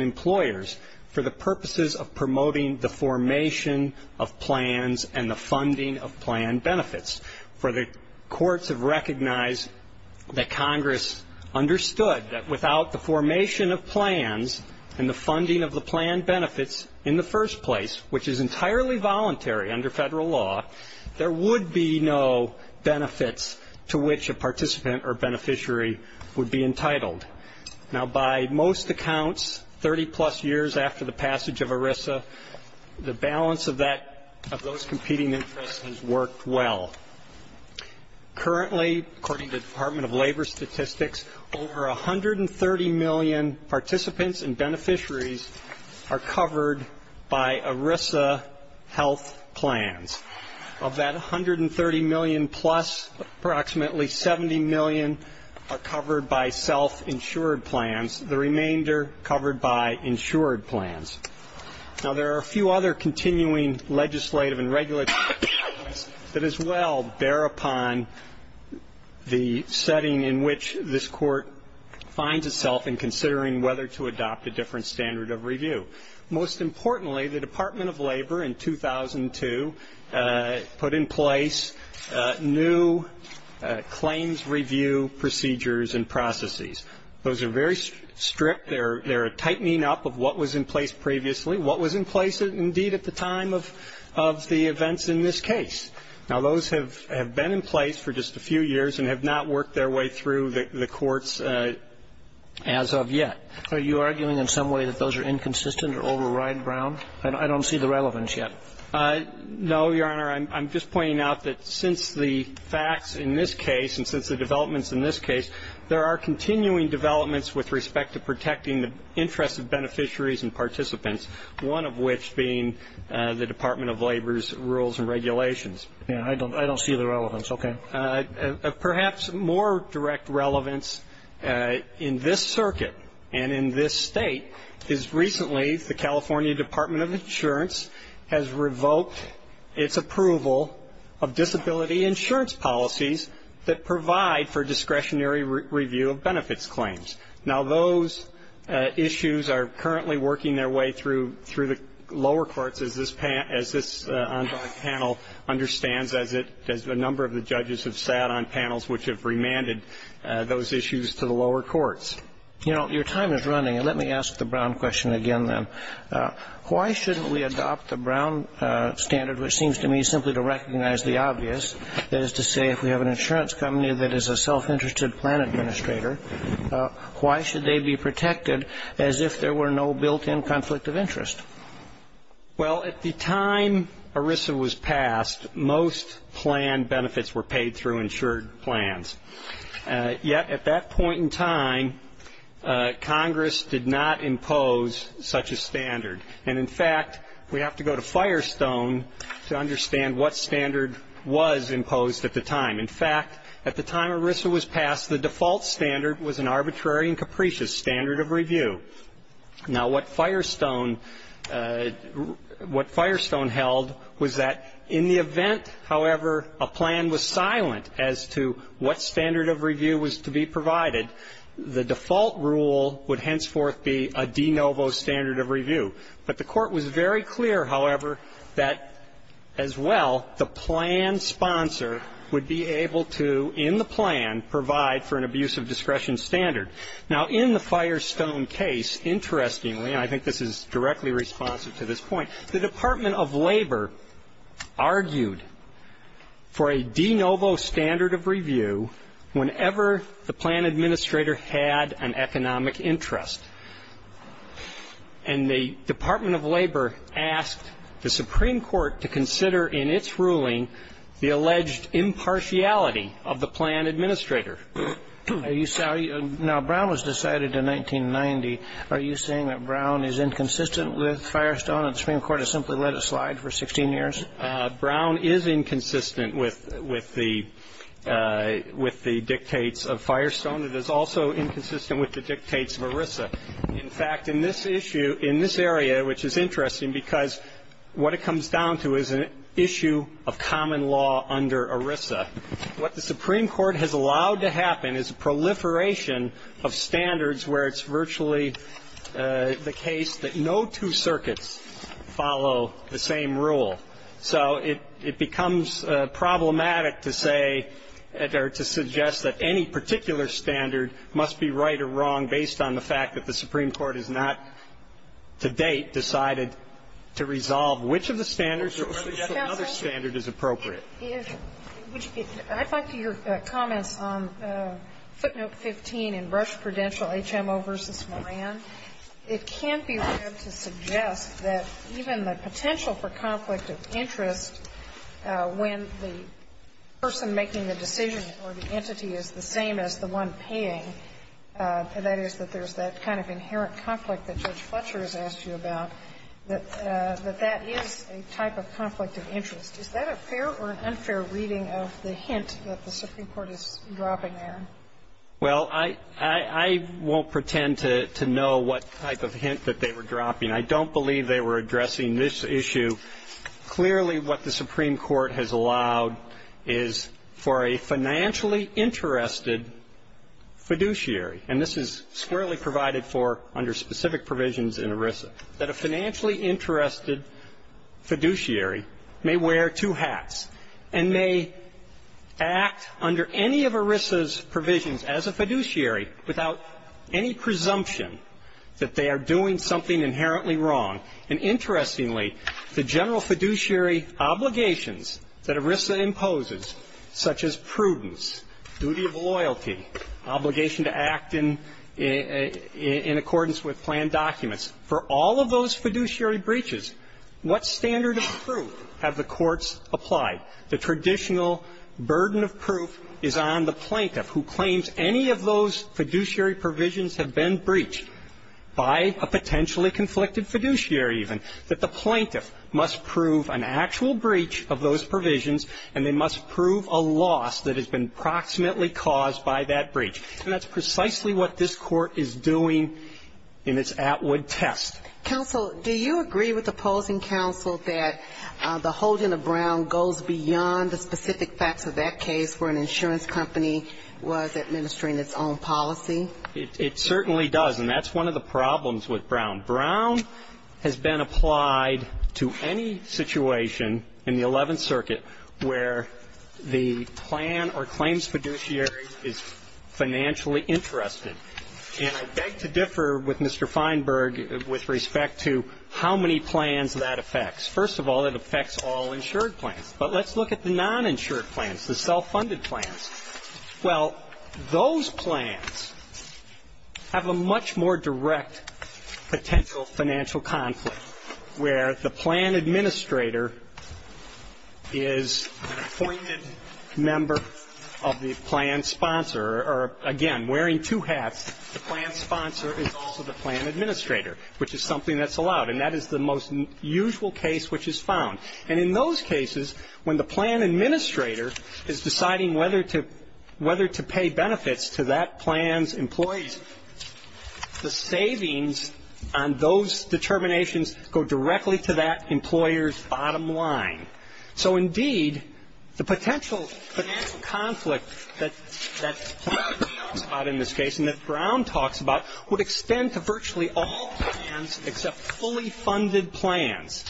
employers for the purposes of promoting the formation of plans and the funding of plan benefits. For the courts have recognized that Congress understood that without the formation of plans and the funding of the plan benefits in the first place, which is entirely voluntary under federal law, there would be no benefits to which a participant or beneficiary would be entitled. Now, by most accounts, 30-plus years after the passage of ERISA, the balance of those competing interests has worked well. Currently, according to the Department of Labor Statistics, over 130 million participants and beneficiaries are covered by ERISA health plans. Of that 130 million-plus, approximately 70 million are covered by self-insured plans, the remainder covered by insured plans. Now, there are a few other continuing legislative and regulatory issues that as well bear upon the setting in which this court finds itself in considering whether to adopt a different standard of review. Most importantly, the Department of Labor in 2002 put in place new claims review procedures and processes. Those are very strict. They're a tightening up of what was in place previously, what was in place indeed at the time of the events in this case. Now, those have been in place for just a few years and have not worked their way through the courts as of yet. Are you arguing in some way that those are inconsistent or override Brown? I don't see the relevance yet. No, Your Honor. I'm just pointing out that since the facts in this case and since the developments in this case, there are continuing developments with respect to protecting the interests of beneficiaries and participants, one of which being the Department of Labor's rules and regulations. Yeah, I don't see the relevance. Okay. Perhaps more direct relevance in this circuit and in this state is recently the California Department of Insurance has revoked its approval of disability insurance policies that provide for discretionary review of benefits claims. Now, those issues are currently working their way through the lower courts, as this panel understands, as a number of the judges have sat on panels which have remanded those issues to the lower courts. You know, your time is running. Let me ask the Brown question again then. Why shouldn't we adopt the Brown standard, which seems to me simply to recognize the obvious, that is to say if we have an insurance company that is a self-interested plan administrator, why should they be protected as if there were no built-in conflict of interest? Well, at the time ERISA was passed, most plan benefits were paid through insured plans. Yet at that point in time, Congress did not impose such a standard. And, in fact, we have to go to Firestone to understand what standard was imposed at the time. In fact, at the time ERISA was passed, the default standard was an arbitrary and capricious standard of review. Now, what Firestone held was that in the event, however, a plan was silent as to what standard of review was to be provided, the default rule would henceforth be a de novo standard of review. But the Court was very clear, however, that as well the plan sponsor would be able to, in the plan, provide for an abuse of discretion standard. Now, in the Firestone case, interestingly, and I think this is directly responsive to this point, the Department of Labor argued for a de novo standard of review whenever the plan administrator had an economic interest. And the Department of Labor asked the Supreme Court to consider in its ruling the alleged impartiality of the plan administrator. Now, Brown was decided in 1990. Are you saying that Brown is inconsistent with Firestone and the Supreme Court has simply let it slide for 16 years? Brown is inconsistent with the dictates of Firestone. It is also inconsistent with the dictates of ERISA. In fact, in this issue, in this area, which is interesting because what it comes down to is an issue of common law under ERISA. What the Supreme Court has allowed to happen is proliferation of standards where it's virtually the case that no two circuits follow the same rule. So it becomes problematic to say or to suggest that any particular standard must be right or wrong based on the fact that the Supreme Court has not to date decided to resolve which of the standards. So another standard is appropriate. I'd like to hear comments on footnote 15 in Rush Prudential, HMO v. Moran. It can't be read to suggest that even the potential for conflict of interest when the person making the decision or the entity is the same as the one paying, that is, that there's that kind of inherent conflict that Judge Fletcher has asked you about, that that is a type of conflict of interest. Is that a fair or an unfair reading of the hint that the Supreme Court is dropping there? Well, I won't pretend to know what type of hint that they were dropping. I don't believe they were addressing this issue. Clearly, what the Supreme Court has allowed is for a financially interested fiduciary, and this is squarely provided for under specific provisions in ERISA, that a financially interested fiduciary may wear two hats and may act under any of ERISA's provisions as a fiduciary without any presumption that they are doing something inherently wrong. And interestingly, the general fiduciary obligations that ERISA imposes, such as prudence, duty of loyalty, obligation to act in accordance with planned documents, for all of those fiduciary breaches, what standard of proof have the courts applied? The traditional burden of proof is on the plaintiff who claims any of those fiduciary provisions have been breached by a potentially conflicted fiduciary even, that the plaintiff has been approximately caused by that breach. And that's precisely what this Court is doing in its Atwood test. Counsel, do you agree with opposing counsel that the holding of Brown goes beyond the specific facts of that case where an insurance company was administering its own policy? It certainly does, and that's one of the problems with Brown. Brown has been applied to any situation in the Eleventh Circuit where the plan or claims fiduciary is financially interested. And I beg to differ with Mr. Feinberg with respect to how many plans that affects. First of all, it affects all insured plans. But let's look at the non-insured plans, the self-funded plans. Well, those plans have a much more direct potential financial conflict where the plan administrator is an appointed member of the plan sponsor or, again, wearing two hats. The plan sponsor is also the plan administrator, which is something that's allowed. And that is the most usual case which is found. And in those cases, when the plan administrator is deciding whether to pay benefits to that plan's employees, the savings on those determinations go directly to that employer's bottom line. So, indeed, the potential financial conflict that Brown talks about in this case and that Brown talks about would extend to virtually all plans except fully funded plans.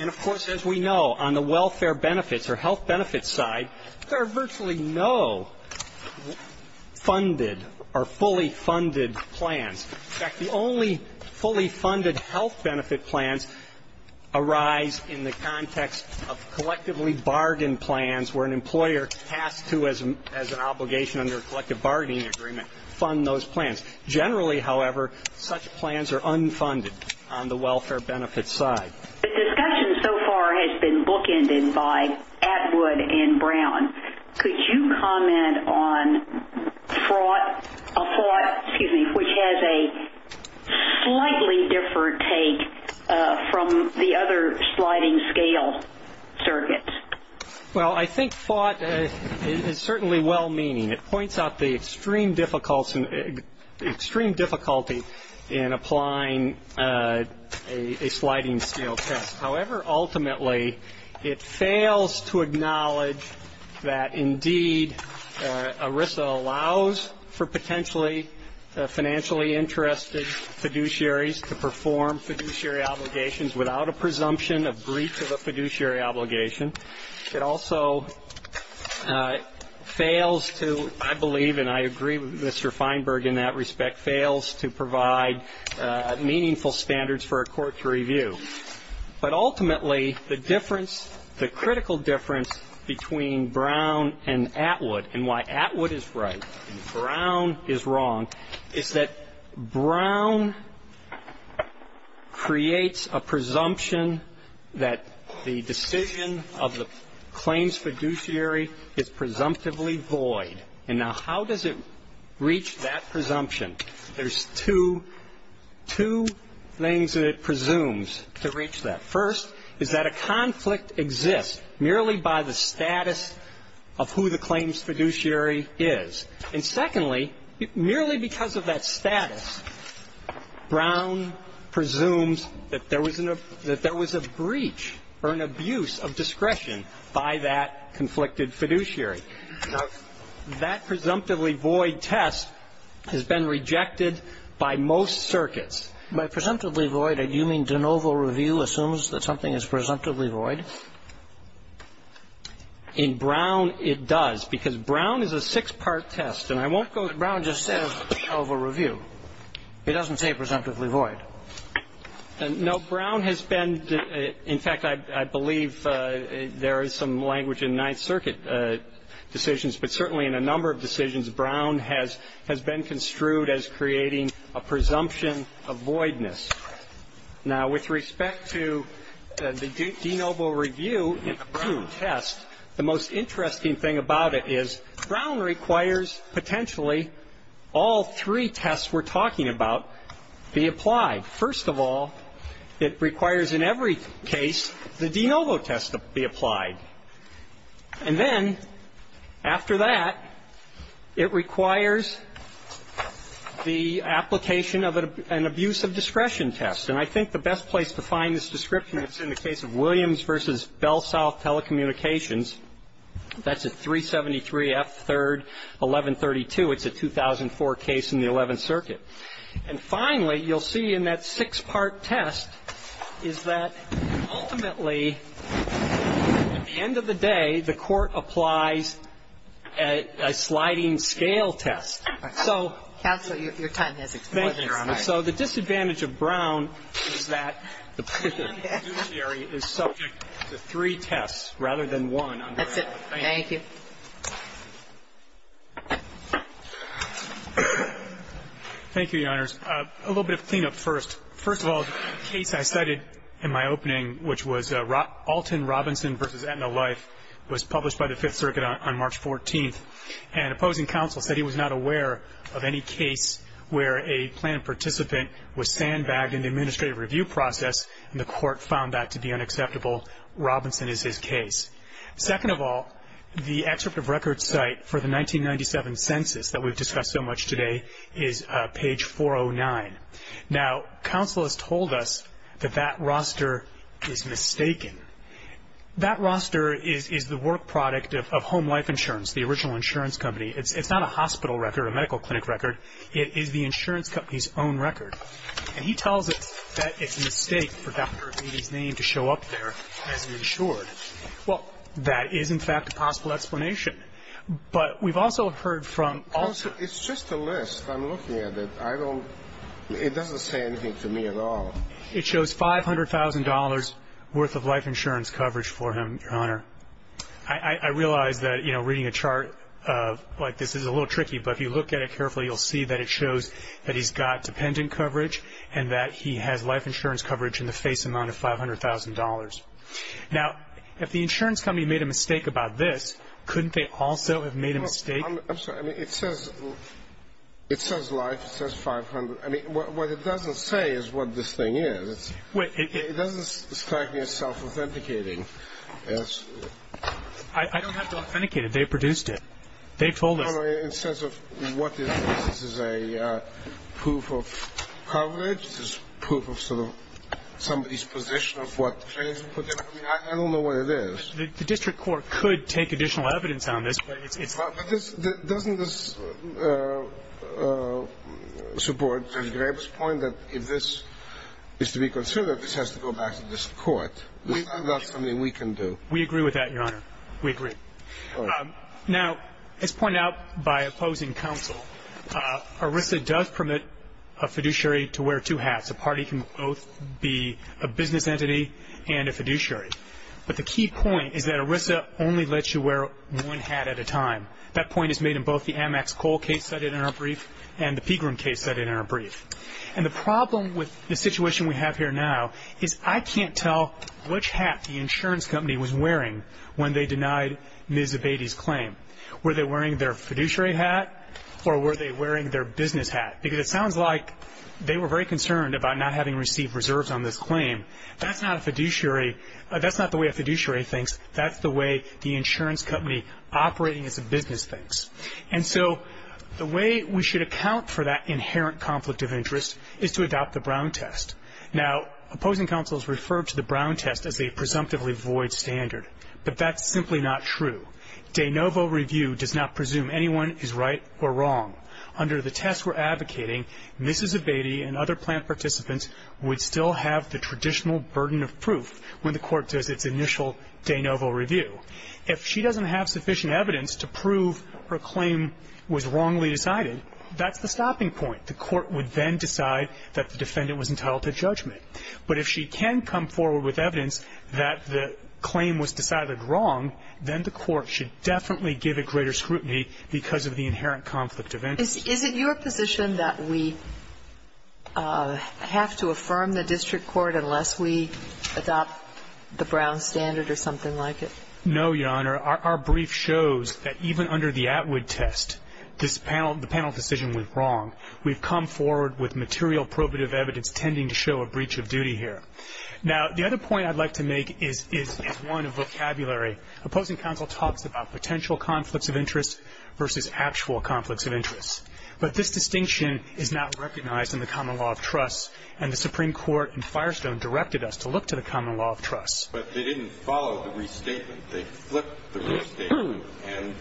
And, of course, as we know, on the welfare benefits or health benefits side, there are virtually no funded or fully funded plans. In fact, the only fully funded health benefit plans arise in the context of collectively bargained plans where an employer has to, as an obligation under a collective bargaining agreement, fund those plans. Generally, however, such plans are unfunded on the welfare benefits side. The discussion so far has been bookended by Atwood and Brown. Could you comment on FOT, which has a slightly different take from the other sliding scale circuits? Well, I think FOT is certainly well-meaning. It points out the extreme difficulty in applying a sliding scale test. However, ultimately, it fails to acknowledge that, indeed, ERISA allows for potentially financially interested fiduciaries to perform fiduciary obligations without a presumption of breach of a fiduciary obligation. It also fails to, I believe, and I agree with Mr. Feinberg in that respect, fails to provide meaningful standards for a court to review. But ultimately, the difference, the critical difference between Brown and Atwood and why claims fiduciary is presumptively void. And now, how does it reach that presumption? There's two things that it presumes to reach that. First is that a conflict exists merely by the status of who the claims fiduciary is. And secondly, merely because of that status, Brown presumes that there was a breach or an abuse of discretion by that conflicted fiduciary. Now, that presumptively void test has been rejected by most circuits. By presumptively void, do you mean de novo review assumes that something is presumptively void? In Brown, it does, because Brown is a six-part test. And I won't go to Brown just as de novo review. It doesn't say presumptively void. No, Brown has been, in fact, I believe there is some language in Ninth Circuit decisions, but certainly in a number of decisions, Brown has been construed as creating a presumption of voidness. Now, with respect to the de novo review test, the most interesting thing about it is Brown requires potentially all three tests we're talking about be applied. First of all, it requires in every case the de novo test to be applied. And then after that, it requires the application of an abuse of discretion test. And I think the best place to find this description is in the case of Williams v. Bell South Telecommunications. That's at 373 F. 3rd, 1132. It's a 2004 case in the Eleventh Circuit. And finally, you'll see in that six-part test is that ultimately, at the end of the day, the court applies a sliding scale test. Counsel, your time has exploded, Your Honor. So the disadvantage of Brown is that the prosecutor is subject to three tests rather than one. That's it. Thank you. Thank you, Your Honors. A little bit of cleanup first. First of all, the case I cited in my opening, which was Alton Robinson v. Aetna Life, was published by the Fifth Circuit on March 14th. And opposing counsel said he was not aware of any case where a planned participant was sandbagged in the administrative review process, and the court found that to be unacceptable. Robinson is his case. Second of all, the excerpt of records cite for the 1997 census that we've discussed so much today is page 409. Now, counsel has told us that that roster is mistaken. That roster is the work product of Home Life Insurance, the original insurance company. It's not a hospital record, a medical clinic record. It is the insurance company's own record. And he tells us that it's a mistake for Dr. Aetna's name to show up there as an insured. Well, that is, in fact, a possible explanation. But we've also heard from also – It's just a list. I'm looking at it. I don't – it doesn't say anything to me at all. It shows $500,000 worth of life insurance coverage for him, Your Honor. I realize that, you know, reading a chart like this is a little tricky, but if you look at it carefully, you'll see that it shows that he's got dependent coverage and that he has life insurance coverage in the face amount of $500,000. Now, if the insurance company made a mistake about this, couldn't they also have made a mistake? I'm sorry. I mean, it says life. It says 500. I mean, what it doesn't say is what this thing is. It doesn't strike me as self-authenticating. I don't have to authenticate it. They produced it. They told us. No, no. In the sense of what this is, this is a proof of coverage, this is proof of sort of somebody's position of what claims were put in. I mean, I don't know what it is. The district court could take additional evidence on this, but it's – But doesn't this support Judge Graber's point that if this is to be considered, this has to go back to the district court? This is not something we can do. We agree with that, Your Honor. We agree. Now, as pointed out by opposing counsel, ERISA does permit a fiduciary to wear two hats. A party can both be a business entity and a fiduciary. But the key point is that ERISA only lets you wear one hat at a time. That point is made in both the Amex Cole case cited in our brief and the Pegram case cited in our brief. And the problem with the situation we have here now is I can't tell which hat the insurance company was wearing when they denied Ms. Abate's claim. Were they wearing their fiduciary hat or were they wearing their business hat? Because it sounds like they were very concerned about not having received reserves on this claim. That's not a fiduciary – that's not the way a fiduciary thinks. That's the way the insurance company operating as a business thinks. And so the way we should account for that inherent conflict of interest is to adopt the Brown test. Now, opposing counsel has referred to the Brown test as a presumptively void standard. But that's simply not true. De novo review does not presume anyone is right or wrong. Under the test we're advocating, Mrs. Abate and other plant participants would still have the traditional burden of proof when the Court does its initial de novo review. If she doesn't have sufficient evidence to prove her claim was wrongly decided, that's the stopping point. The Court would then decide that the defendant was entitled to judgment. But if she can come forward with evidence that the claim was decided wrong, then the Court should definitely give it greater scrutiny because of the inherent conflict of interest. Is it your position that we have to affirm the district court unless we adopt the Brown standard or something like it? No, Your Honor. Your Honor, our brief shows that even under the Atwood test, the panel decision was wrong. We've come forward with material probative evidence tending to show a breach of duty here. Now, the other point I'd like to make is one of vocabulary. Opposing counsel talks about potential conflicts of interest versus actual conflicts of interest. But this distinction is not recognized in the common law of trust, and the Supreme Court in Firestone directed us to look to the common law of trust. But they didn't follow the restatement. They flipped the restatement. And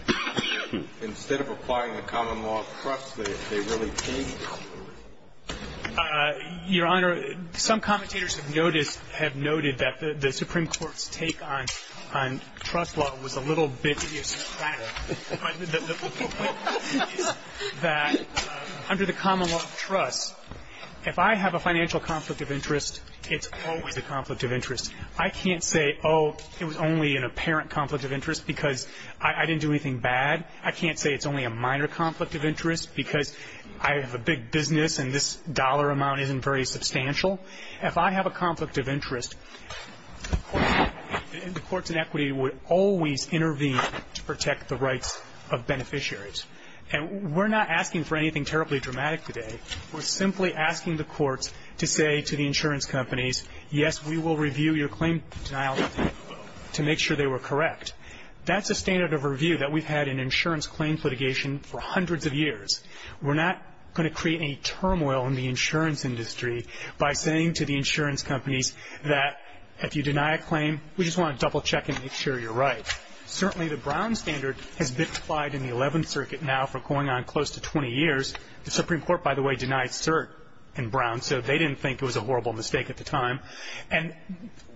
instead of applying the common law of trust, they really changed it. Your Honor, some commentators have noticed, have noted that the Supreme Court's take on trust law was a little bit idiosyncratic. The point is that under the common law of trust, if I have a financial conflict of interest, it's always a conflict of interest. I can't say, oh, it was only an apparent conflict of interest because I didn't do anything bad. I can't say it's only a minor conflict of interest because I have a big business and this dollar amount isn't very substantial. If I have a conflict of interest, the courts in equity would always intervene to protect the rights of beneficiaries. And we're not asking for anything terribly dramatic today. We're simply asking the courts to say to the insurance companies, yes, we will review your claim denial to make sure they were correct. That's a standard of review that we've had in insurance claim litigation for hundreds of years. We're not going to create any turmoil in the insurance industry by saying to the insurance companies that if you deny a claim, we just want to double check and make sure you're right. Certainly the Brown standard has been applied in the Eleventh Circuit now for going on close to 20 years. The Supreme Court, by the way, denied cert in Brown, so they didn't think it was a horrible mistake at the time. And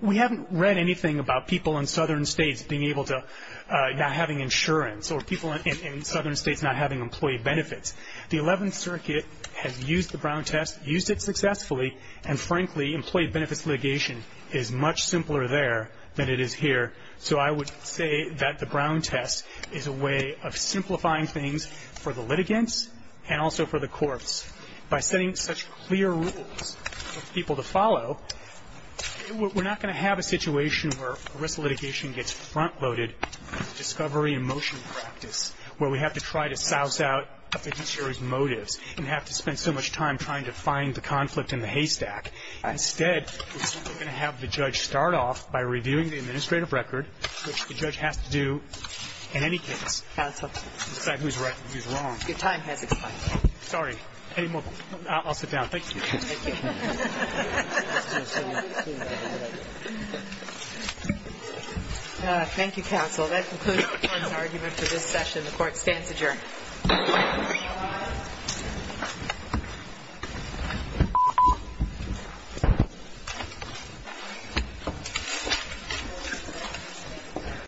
we haven't read anything about people in southern states not having insurance or people in southern states not having employee benefits. The Eleventh Circuit has used the Brown test, used it successfully, and frankly employee benefits litigation is much simpler there than it is here. So I would say that the Brown test is a way of simplifying things for the litigants and also for the courts. By setting such clear rules for people to follow, we're not going to have a situation where arrest litigation gets front-loaded with discovery and motion practice, where we have to try to souse out a fiduciary's motives and have to spend so much time trying to find the conflict in the haystack. Instead, we're going to have the judge start off by reviewing the administrative record, which the judge has to do in any case. Counsel. Your time has expired. Sorry. I'll sit down. Thank you. Thank you. Thank you, counsel. That concludes the court's argument for this session. The Court stands adjourned.